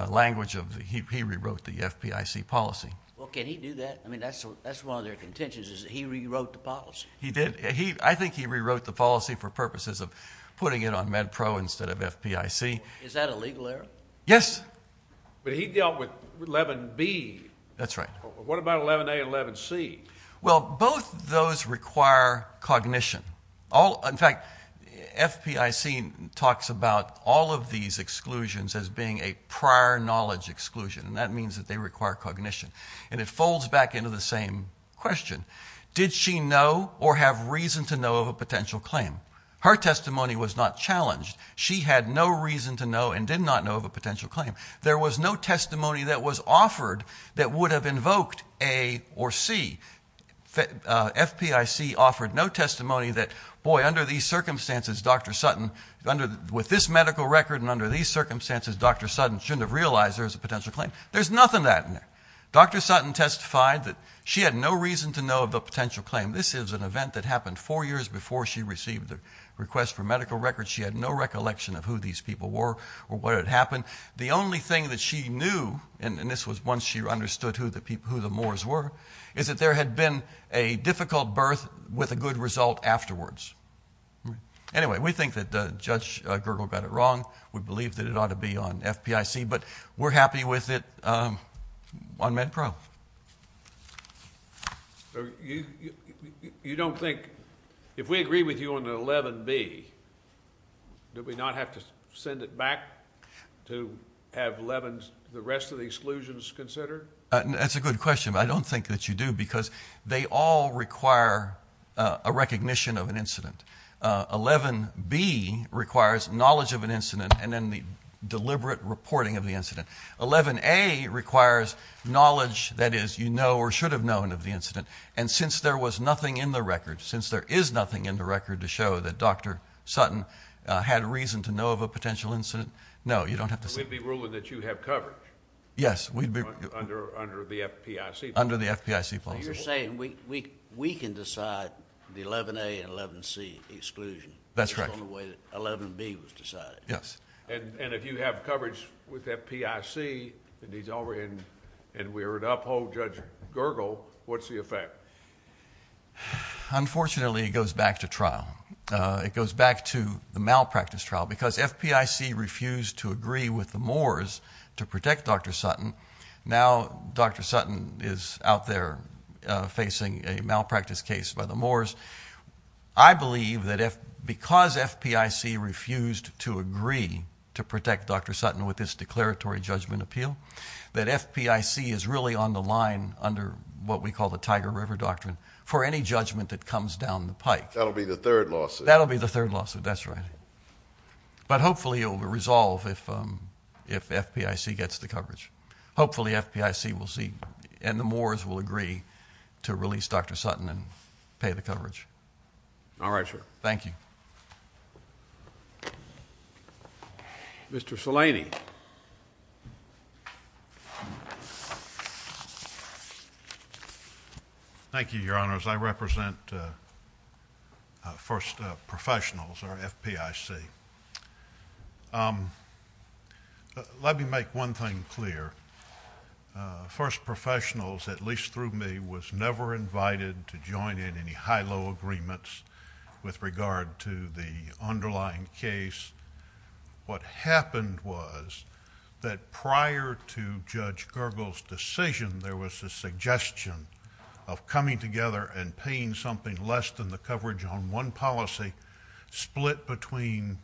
language of he rewrote the FPIC policy. Well, can he do that? I mean, that's one of their contentions is that he rewrote the policy. He did. I think he rewrote the policy for purposes of putting it on MedPro instead of FPIC. Is that a legal error? Yes. But he dealt with 11B. That's right. What about 11A and 11C? Well, both those require cognition. In fact, FPIC talks about all of these exclusions as being a prior knowledge exclusion, and that means that they require cognition. And it folds back into the same question. Did she know or have reason to know of a potential claim? Her testimony was not challenged. She had no reason to know and did not know of a potential claim. There was no testimony that was offered that would have invoked A or C. FPIC offered no testimony that, boy, under these circumstances, Dr. Sutton, with this medical record and under these circumstances, Dr. Sutton shouldn't have realized there was a potential claim. There's nothing of that in there. Dr. Sutton testified that she had no reason to know of a potential claim. This is an event that happened four years before she received the request for medical records. She had no recollection of who these people were or what had happened. The only thing that she knew, and this was once she understood who the Moors were, is that there had been a difficult birth with a good result afterwards. Anyway, we think that Judge Gergel got it wrong. We believe that it ought to be on FPIC, but we're happy with it on MedPro. You don't think, if we agree with you on the 11B, do we not have to send it back to have the rest of the exclusions considered? That's a good question, but I don't think that you do, because they all require a recognition of an incident. 11B requires knowledge of an incident and then the deliberate reporting of the incident. 11A requires knowledge, that is, you know or should have known of the incident, and since there was nothing in the record, to show that Dr. Sutton had reason to know of a potential incident, no, you don't have to send it. So we'd be ruling that you have coverage? Yes. Under the FPIC? Under the FPIC, plausible. So you're saying we can decide the 11A and 11C exclusion? That's correct. That's the only way that 11B was decided? Yes. And if you have coverage with FPIC and we were to uphold Judge Gergel, what's the effect? Unfortunately, it goes back to trial. It goes back to the malpractice trial, because FPIC refused to agree with the Moores to protect Dr. Sutton. Now Dr. Sutton is out there facing a malpractice case by the Moores. I believe that because FPIC refused to agree to protect Dr. Sutton with this declaratory judgment appeal, that FPIC is really on the line under what we call the Tiger River Doctrine for any judgment that comes down the pike. That'll be the third lawsuit. That'll be the third lawsuit. That's right. But hopefully it will resolve if FPIC gets the coverage. Hopefully FPIC will see and the Moores will agree to release Dr. Sutton and pay the coverage. All right, sir. Thank you. Mr. Salani. Thank you, Your Honors. I represent First Professionals, or FPIC. Let me make one thing clear. First Professionals, at least through me, was never invited to join in any high-low agreements with regard to the underlying case. What happened was that prior to Judge Gergel's decision, there was a suggestion of coming together and paying something less than the coverage on one policy split between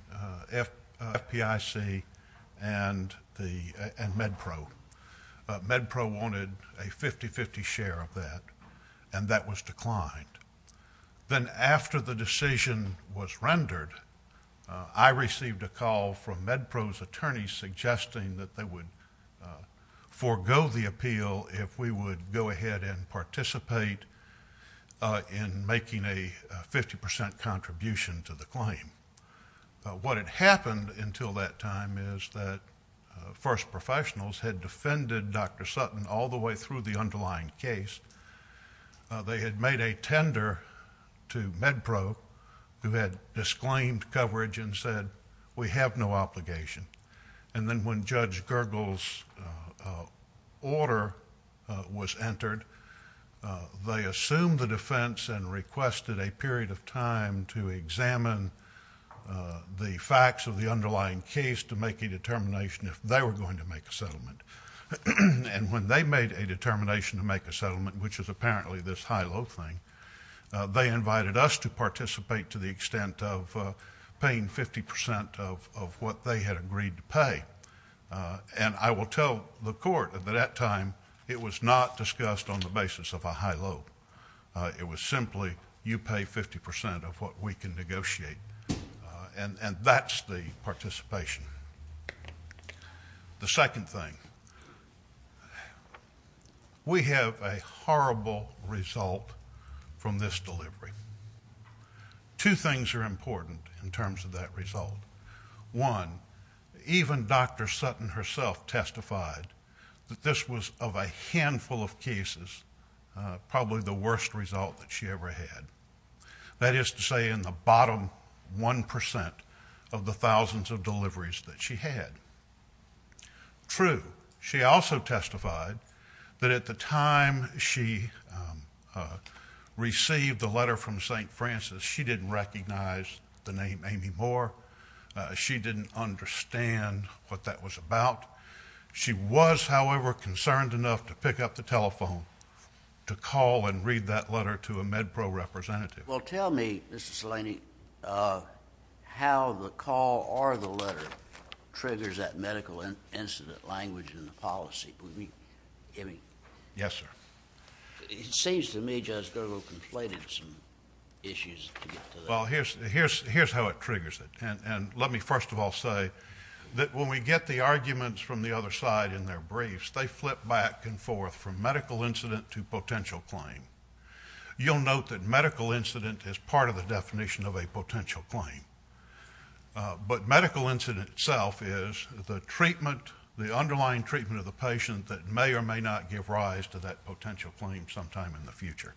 FPIC and MedPro. MedPro wanted a 50-50 share of that, and that was declined. Then after the decision was rendered, I received a call from MedPro's attorneys suggesting that they would forego the appeal if we would go ahead and participate in making a 50% contribution to the claim. What had happened until that time is that First Professionals had defended Dr. Sutton all the way through the underlying case. They had made a tender to MedPro, who had disclaimed coverage and said, we have no obligation. Then when Judge Gergel's order was entered, they assumed the defense and requested a period of time to examine the facts of the underlying case to make a determination if they were going to make a settlement. When they made a determination to make a settlement, which is apparently this high-low thing, they invited us to participate to the extent of paying 50% of what they had agreed to pay. I will tell the Court that at that time it was not discussed on the basis of a high-low. It was simply, you pay 50% of what we can negotiate. That's the participation. The second thing, we have a horrible result from this delivery. Two things are important in terms of that result. One, even Dr. Sutton herself testified that this was, of a handful of cases, probably the worst result that she ever had. That is to say, in the bottom 1% of the thousands of deliveries that she had. True, she also testified that at the time she received the letter from St. Francis, she didn't recognize the name Amy Moore. She didn't understand what that was about. She was, however, concerned enough to pick up the telephone to call and read that letter to a MedPro representative. Well, tell me, Mr. Salini, how the call or the letter triggers that medical incident language in the policy. Amy? Yes, sir. It seems to me Judge Gerlo conflated some issues. Well, here's how it triggers it. Let me first of all say that when we get the arguments from the other side in their briefs, they flip back and forth from medical incident to potential claim. You'll note that medical incident is part of the definition of a potential claim. But medical incident itself is the underlying treatment of the patient that may or may not give rise to that potential claim sometime in the future.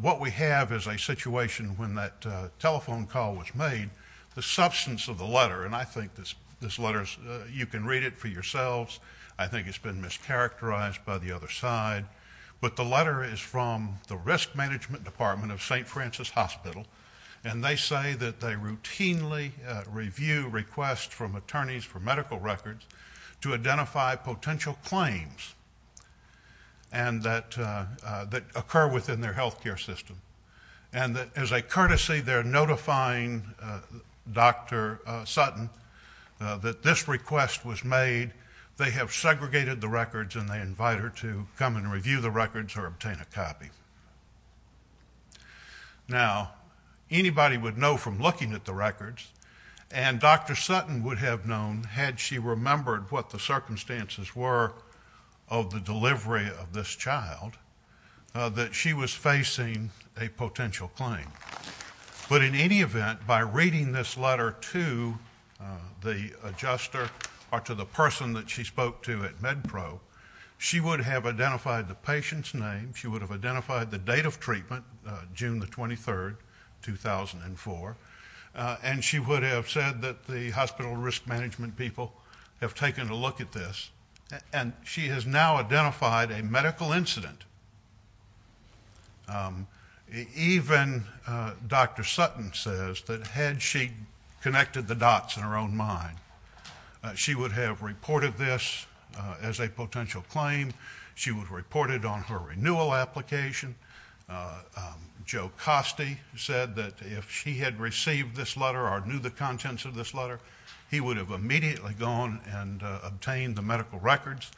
What we have is a situation when that telephone call was made, the substance of the letter, and I think this letter, you can read it for yourselves, I think it's been mischaracterized by the other side, but the letter is from the Risk Management Department of St. Francis Hospital, and they say that they routinely review requests from attorneys for medical records to identify potential claims that occur within their health care system. And as a courtesy, they're notifying Dr. Sutton that this request was made. They have segregated the records, and they invite her to come and review the records or obtain a copy. Now, anybody would know from looking at the records, and Dr. Sutton would have known had she remembered what the circumstances were of the delivery of this child that she was facing a potential claim. But in any event, by reading this letter to the adjuster or to the person that she spoke to at MedPro, she would have identified the patient's name, she would have identified the date of treatment, June 23, 2004, and she would have said that the hospital risk management people have taken a look at this. And she has now identified a medical incident. Even Dr. Sutton says that had she connected the dots in her own mind, she would have reported this as a potential claim. She would have reported on her renewal application. Joe Costi said that if she had received this letter or knew the contents of this letter, he would have immediately gone and obtained the medical records.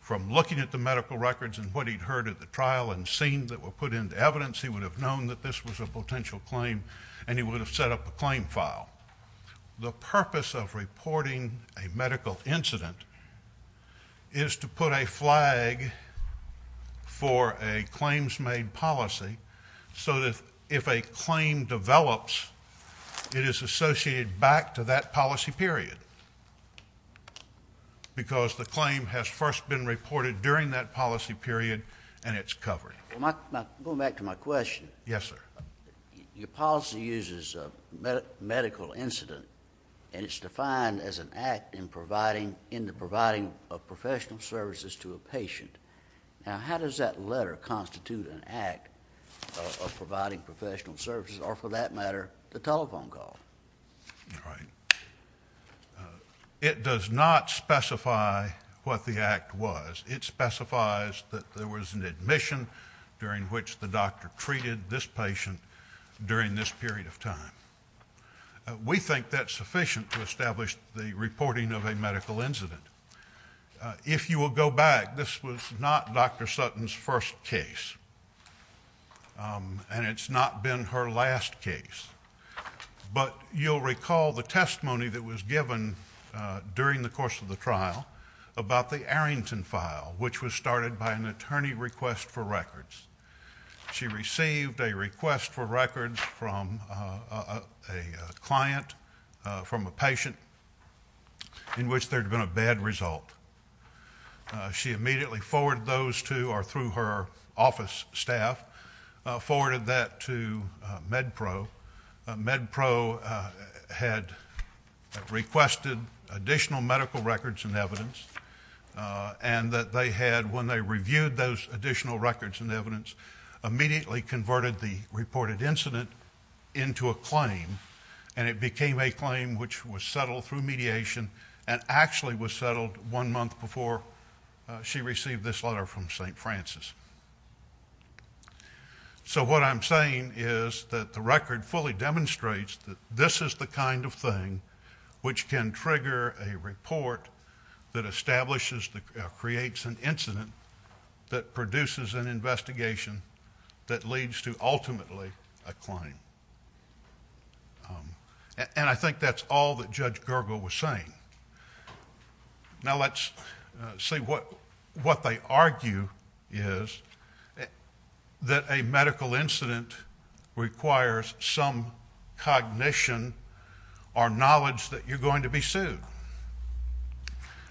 From looking at the medical records and what he'd heard at the trial and seen that were put into evidence, he would have known that this was a potential claim, and he would have set up a claim file. The purpose of reporting a medical incident is to put a flag for a claims-made policy so that if a claim develops, it is associated back to that policy period because the claim has first been reported during that policy period, and it's covered. Going back to my question. Yes, sir. Your policy uses a medical incident, and it's defined as an act in the providing of professional services to a patient. Now, how does that letter constitute an act of providing professional services or, for that matter, the telephone call? All right. It does not specify what the act was. It specifies that there was an admission during which the doctor treated this patient during this period of time. We think that's sufficient to establish the reporting of a medical incident. If you will go back, this was not Dr. Sutton's first case, and it's not been her last case, but you'll recall the testimony that was given during the course of the trial about the Arrington file, which was started by an attorney request for records. She received a request for records from a client, from a patient, in which there had been a bad result. She immediately forwarded those to or through her office staff, forwarded that to MedPro. MedPro had requested additional medical records and evidence, and that they had, when they reviewed those additional records and evidence, immediately converted the reported incident into a claim, and it became a claim which was settled through mediation and actually was settled one month before she received this letter from St. Francis. So what I'm saying is that the record fully demonstrates that this is the kind of thing which can trigger a report that establishes or creates an incident that produces an investigation that leads to ultimately a claim. And I think that's all that Judge Gergel was saying. Now let's see what they argue is that a medical incident requires some cognition or knowledge that you're going to be sued.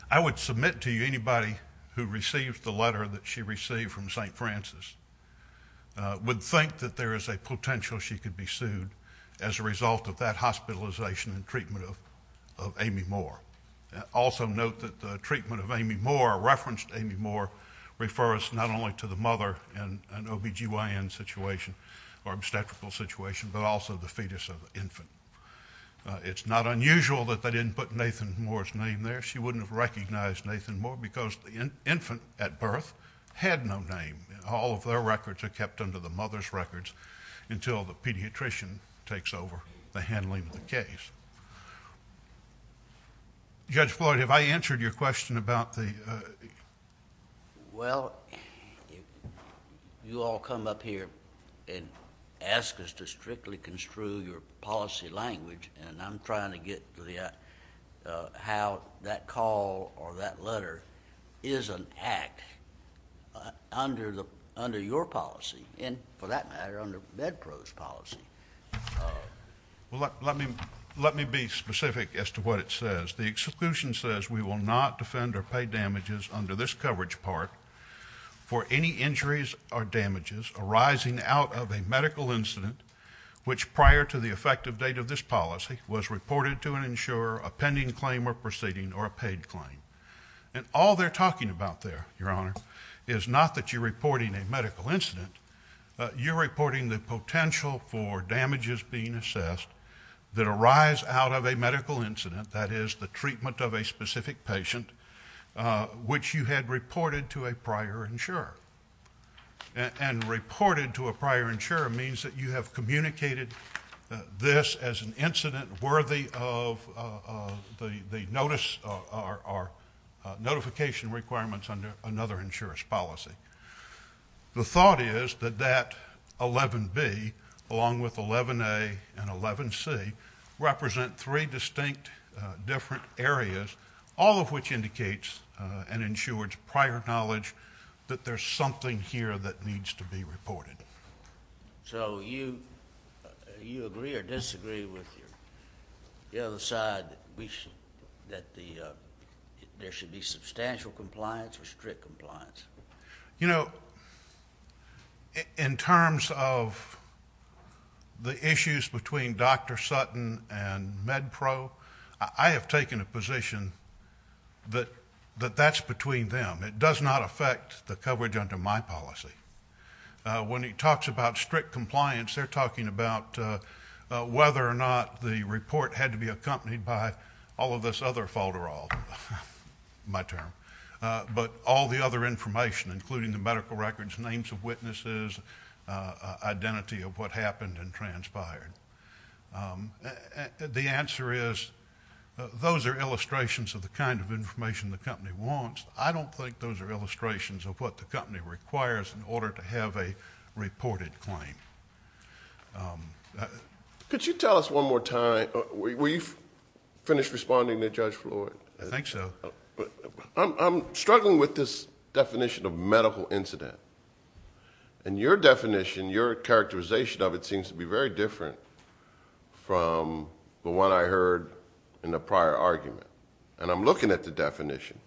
I would submit to you anybody who received the letter that she received from St. Francis would think that there is a potential she could be sued as a result of that hospitalization and treatment of Amy Moore. Also note that the treatment of Amy Moore, referenced Amy Moore, refers not only to the mother in an OB-GYN situation or obstetrical situation, but also the fetus of the infant. It's not unusual that they didn't put Nathan Moore's name there. She wouldn't have recognized Nathan Moore because the infant at birth had no name. All of their records are kept under the mother's records until the pediatrician takes over the handling of the case. Judge Floyd, have I answered your question about the... Well, you all come up here and ask us to strictly construe your policy language, and I'm trying to get to how that call or that letter is an act under your policy and, for that matter, under MedPro's policy. Let me be specific as to what it says. The execution says we will not defend or pay damages under this coverage part for any injuries or damages arising out of a medical incident which, prior to the effective date of this policy, was reported to an insurer, a pending claim or proceeding, or a paid claim. And all they're talking about there, Your Honor, is not that you're reporting a medical incident. You're reporting the potential for damages being assessed that arise out of a medical incident, that is, the treatment of a specific patient, which you had reported to a prior insurer. And reported to a prior insurer means that you have communicated this as an incident worthy of the notice or notification requirements under another insurer's policy. The thought is that that 11B, along with 11A and 11C, represent three distinct different areas, all of which indicates an insurer's prior knowledge that there's something here that needs to be reported. So you agree or disagree with the other side that there should be substantial compliance or strict compliance? You know, in terms of the issues between Dr. Sutton and MedPro, I have taken a position that that's between them. It does not affect the coverage under my policy. When he talks about strict compliance, they're talking about whether or not the report had to be accompanied by all of this other falderal, my term. But all the other information, including the medical records, names of witnesses, identity of what happened and transpired. The answer is those are illustrations of the kind of information the company wants. I don't think those are illustrations of what the company requires in order to have a reported claim. Could you tell us one more time... Will you finish responding to Judge Floyd? I think so. I'm struggling with this definition of medical incident. And your definition, your characterization of it from the one I heard in the prior argument. And I'm looking at the definition.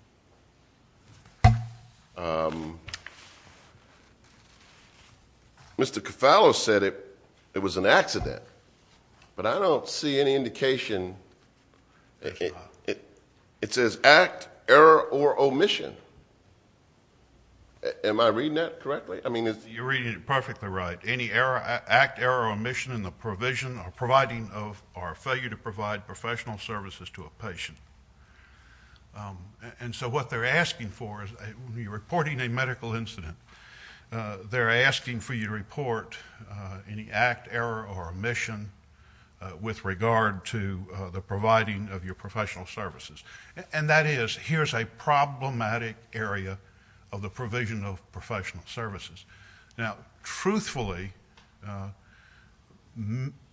Mr. Cofallo said it was an accident. But I don't see any indication. It says act, error, or omission. Am I reading that correctly? You're reading it perfectly right. Any act, error, or omission in the provision or providing of or failure to provide professional services to a patient. And so what they're asking for is when you're reporting a medical incident, they're asking for you to report any act, error, or omission with regard to the providing of your professional services. And that is, here's a problematic area of the provision of professional services. Now, truthfully,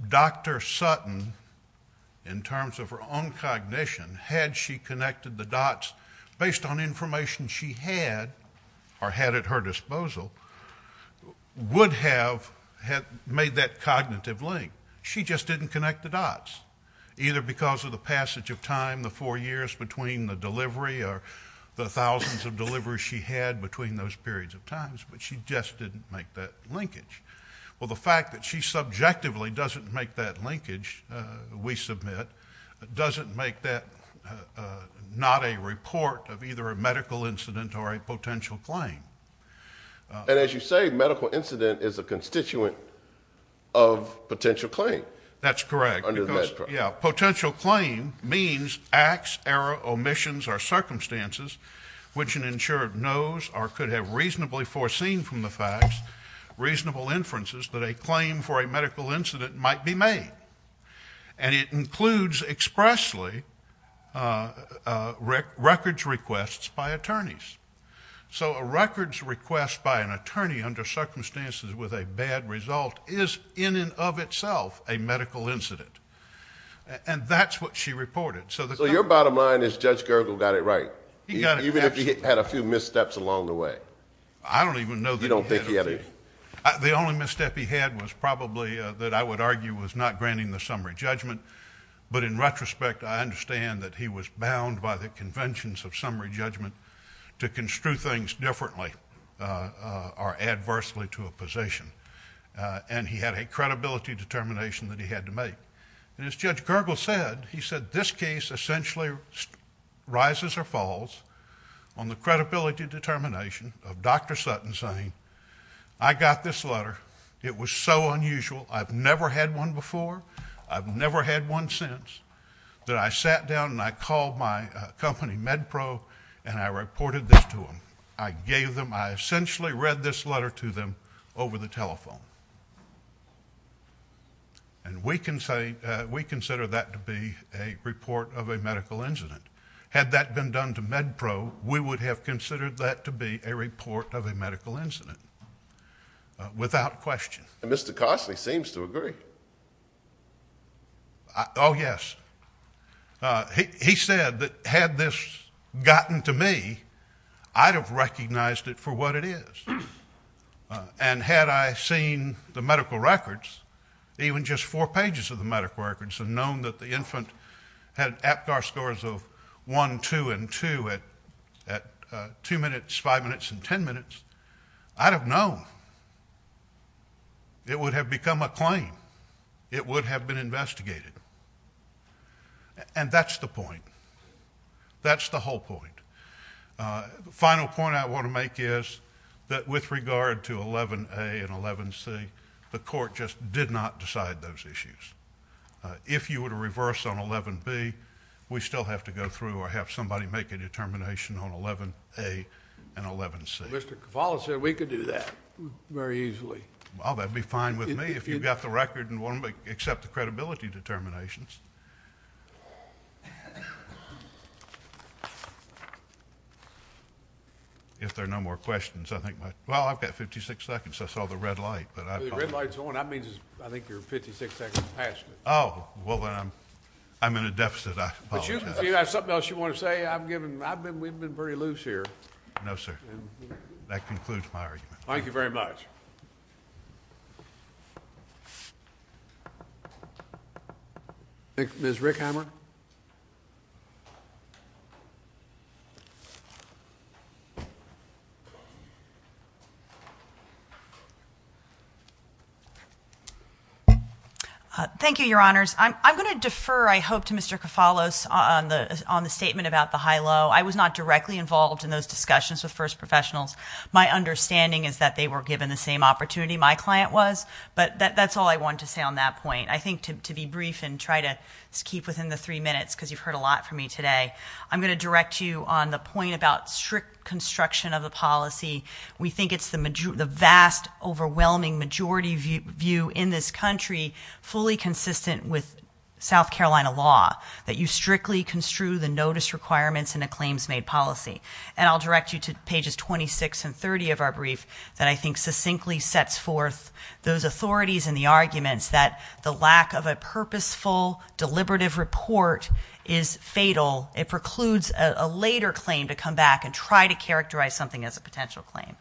Dr. Sutton, in terms of her own cognition, had she connected the dots based on information she had or had at her disposal, would have made that cognitive link. She just didn't connect the dots, either because of the passage of time, the four years between the delivery or the thousands of deliveries she had between those periods of time. But she just didn't make that linkage. Well, the fact that she subjectively doesn't make that linkage, we submit, doesn't make that not a report of either a medical incident or a potential claim. And as you say, medical incident is a constituent of potential claim. That's correct. Potential claim means acts, error, omissions, or circumstances which an insurer knows or could have reasonably foreseen from the facts, reasonable inferences, that a claim for a medical incident might be made. And it includes expressly records requests by attorneys. So a records request by an attorney under circumstances with a bad result is in and of itself a medical incident. And that's what she reported. So your bottom line is Judge Gergel got it right. Even if he had a few missteps along the way. I don't even know that he had any. You don't think he had any? The only misstep he had was probably that I would argue was not granting the summary judgment. But in retrospect, I understand that he was bound by the conventions of summary judgment to construe things differently or adversely to a position. And he had a credibility determination that he had to make. And as Judge Gergel said, he said, this case essentially rises or falls on the credibility determination of Dr. Sutton saying, I got this letter. It was so unusual. I've never had one before. I've never had one since. That I sat down and I called my company, MedPro, and I reported this to them. I gave them, I essentially read this letter to them over the telephone. And we consider that to be a report of a medical incident. Had that been done to MedPro, we would have considered that to be a report of a medical incident. Without question. And Mr. Cosley seems to agree. Oh, yes. He said that had this gotten to me, I'd have recognized it for what it is. And had I seen the medical records, even just four pages of the medical records, and known that the infant had APGAR scores of 1, 2, and 2 at 2 minutes, 5 minutes, and 10 minutes, I'd have known. It would have become a claim. It would have been investigated. And that's the point. That's the whole point. The final point I want to make is that with regard to 11A and 11C, the court just did not decide those issues. If you were to reverse on 11B, we still have to go through or have somebody make a determination on 11A and 11C. Mr. Cavallo said we could do that very easily. Well, that would be fine with me if you got the record and want to accept the credibility determinations. If there are no more questions. Well, I've got 56 seconds. I saw the red light. The red light's on. That means I think you're 56 seconds past it. Oh, well, then I'm in a deficit. I apologize. If you have something else you want to say, I've been very loose here. No, sir. That concludes my argument. Thank you very much. Ms. Rickhammer? Thank you, Your Honors. I'm going to defer, I hope, to Mr. Cavallo on the statement about the high-low. I was not directly involved in those discussions with first professionals. My understanding is that they were given the same opportunity my client was, but that's all I wanted to say on that point. I think to be brief and try to keep within the three minutes, because you've heard a lot from me today, I'm going to direct you on the point about strict construction of a policy. We think it's the vast, overwhelming majority view in this country, fully consistent with South Carolina law, that you strictly construe the notice requirements in a claims-made policy. And I'll direct you to pages 26 and 30 of our brief that I think succinctly sets forth those authorities and the arguments that the lack of a purposeful, deliberative report is fatal. It precludes a later claim to come back and try to characterize something as a potential claim.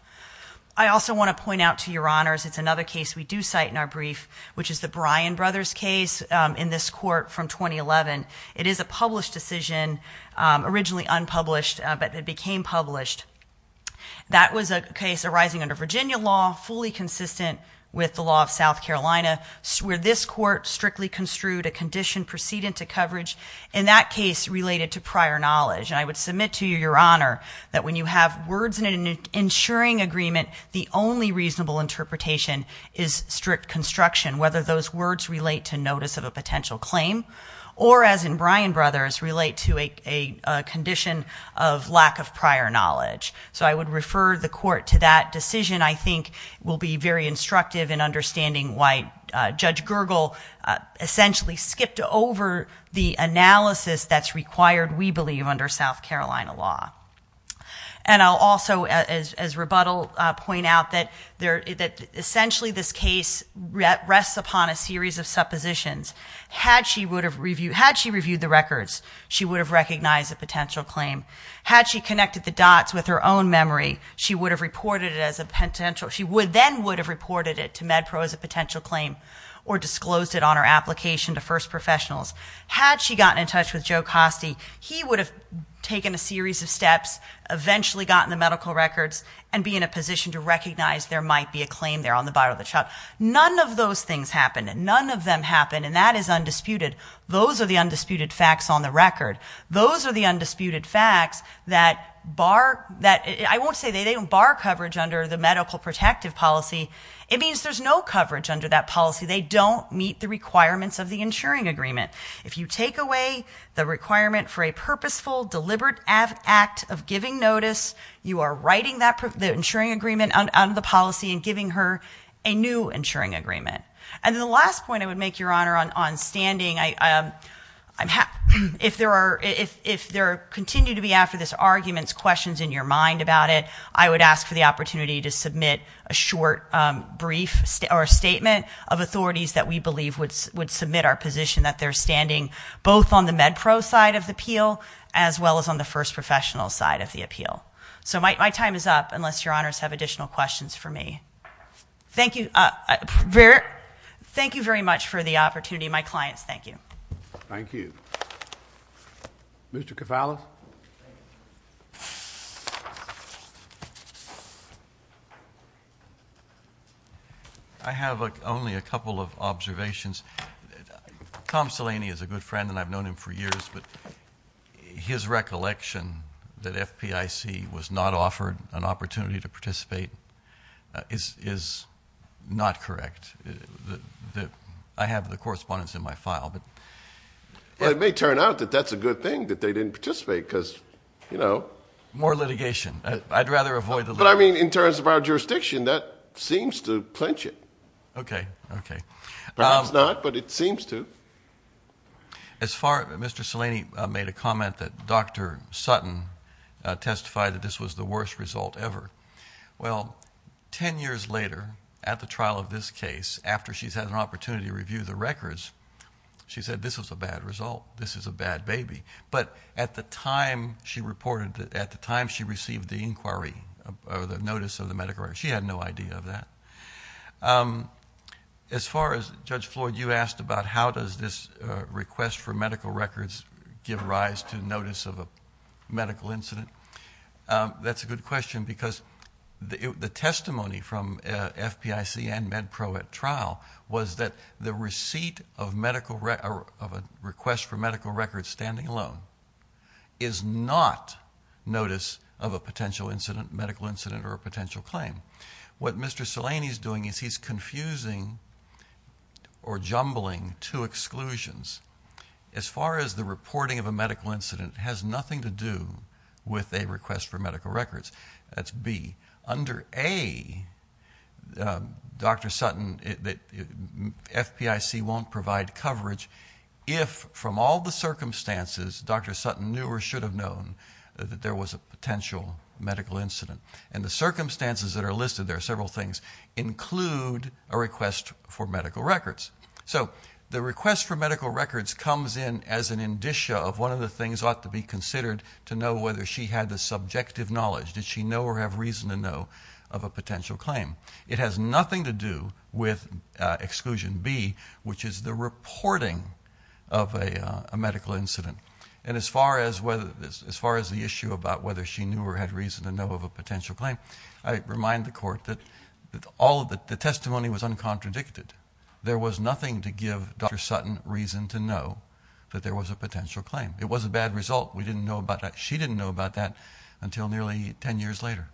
I also want to point out to Your Honors, it's another case we do cite in our brief, which is the Bryan Brothers case in this court from 2011. It is a published decision, originally unpublished, but it became published. That was a case arising under Virginia law, fully consistent with the law of South Carolina, where this court strictly construed a condition precedent to coverage, in that case, related to prior knowledge. And I would submit to you, Your Honor, that when you have words in an ensuring agreement, the only reasonable interpretation is strict construction, whether those words relate to notice of a potential claim, or as in Bryan Brothers, relate to a condition of lack of prior knowledge. So I would refer the court to that decision, I think, will be very instructive in understanding why Judge Gergel essentially skipped over the analysis that's required, we believe, under South Carolina law. And I'll also, as rebuttal, point out that essentially this case rests upon a series of suppositions. Had she reviewed the records, she would have recognized a potential claim. Had she connected the dots with her own memory, she then would have reported it to MedPro as a potential claim, or disclosed it on her application to first professionals. Had she gotten in touch with Joe Costi, he would have taken a series of steps, eventually gotten the medical records, and be in a position to recognize there might be a claim there on the bottom of the chart. None of those things happened, and none of them happened, and that is undisputed. Those are the undisputed facts on the record. Those are the undisputed facts that bar that – I won't say they don't bar coverage under the medical protective policy. It means there's no coverage under that policy. They don't meet the requirements of the insuring agreement. If you take away the requirement for a purposeful, deliberate act of giving notice, you are writing the insuring agreement out of the policy and giving her a new insuring agreement. And the last point I would make, Your Honor, on standing, if there continue to be, after this argument, questions in your mind about it, I would ask for the opportunity to submit a short brief statement of authorities that we believe would submit our position that they're standing both on the MedPro side of the appeal as well as on the first professional side of the appeal. So my time is up unless Your Honors have additional questions for me. Thank you very much for the opportunity. And to me and my clients, thank you. Thank you. Mr. Cavalli. I have only a couple of observations. Tom Salaney is a good friend, and I've known him for years, but his recollection that FPIC was not offered an opportunity to participate is not correct. I have the correspondence in my file. Well, it may turn out that that's a good thing that they didn't participate because, you know. More litigation. I'd rather avoid the litigation. But, I mean, in terms of our jurisdiction, that seems to clinch it. Okay. Okay. Perhaps not, but it seems to. As far as Mr. Salaney made a comment that Dr. Sutton testified that this was the worst result ever, well, ten years later, at the trial of this case, after she's had an opportunity to review the records, she said this was a bad result, this is a bad baby. But at the time she reported, at the time she received the inquiry or the notice of the medical records, she had no idea of that. As far as Judge Floyd, you asked about how does this request for medical records give rise to notice of a medical incident. That's a good question because the testimony from FPIC and MedPro at trial was that the receipt of a request for medical records standing alone is not notice of a potential incident, medical incident, or a potential claim. What Mr. Salaney is doing is he's confusing or jumbling two exclusions. As far as the reporting of a medical incident, it has nothing to do with a request for medical records. That's B. Under A, Dr. Sutton, FPIC won't provide coverage if, from all the circumstances, Dr. Sutton knew or should have known that there was a potential medical incident. And the circumstances that are listed, there are several things, include a request for medical records. So the request for medical records comes in as an indicia of one of the things ought to be considered to know whether she had the subjective knowledge. Did she know or have reason to know of a potential claim? It has nothing to do with Exclusion B, which is the reporting of a medical incident. And as far as the issue about whether she knew or had reason to know of a potential claim, I remind the Court that all of the testimony was uncontradicted. There was nothing to give Dr. Sutton reason to know that there was a potential claim. It was a bad result. We didn't know about that. She didn't know about that until nearly 10 years later.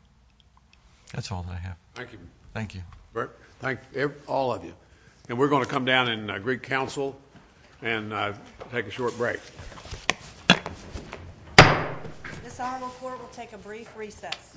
That's all that I have. Thank you. Thank you. Thank all of you. And we're going to come down and greet counsel and take a short break. This Honorable Court will take a brief recess.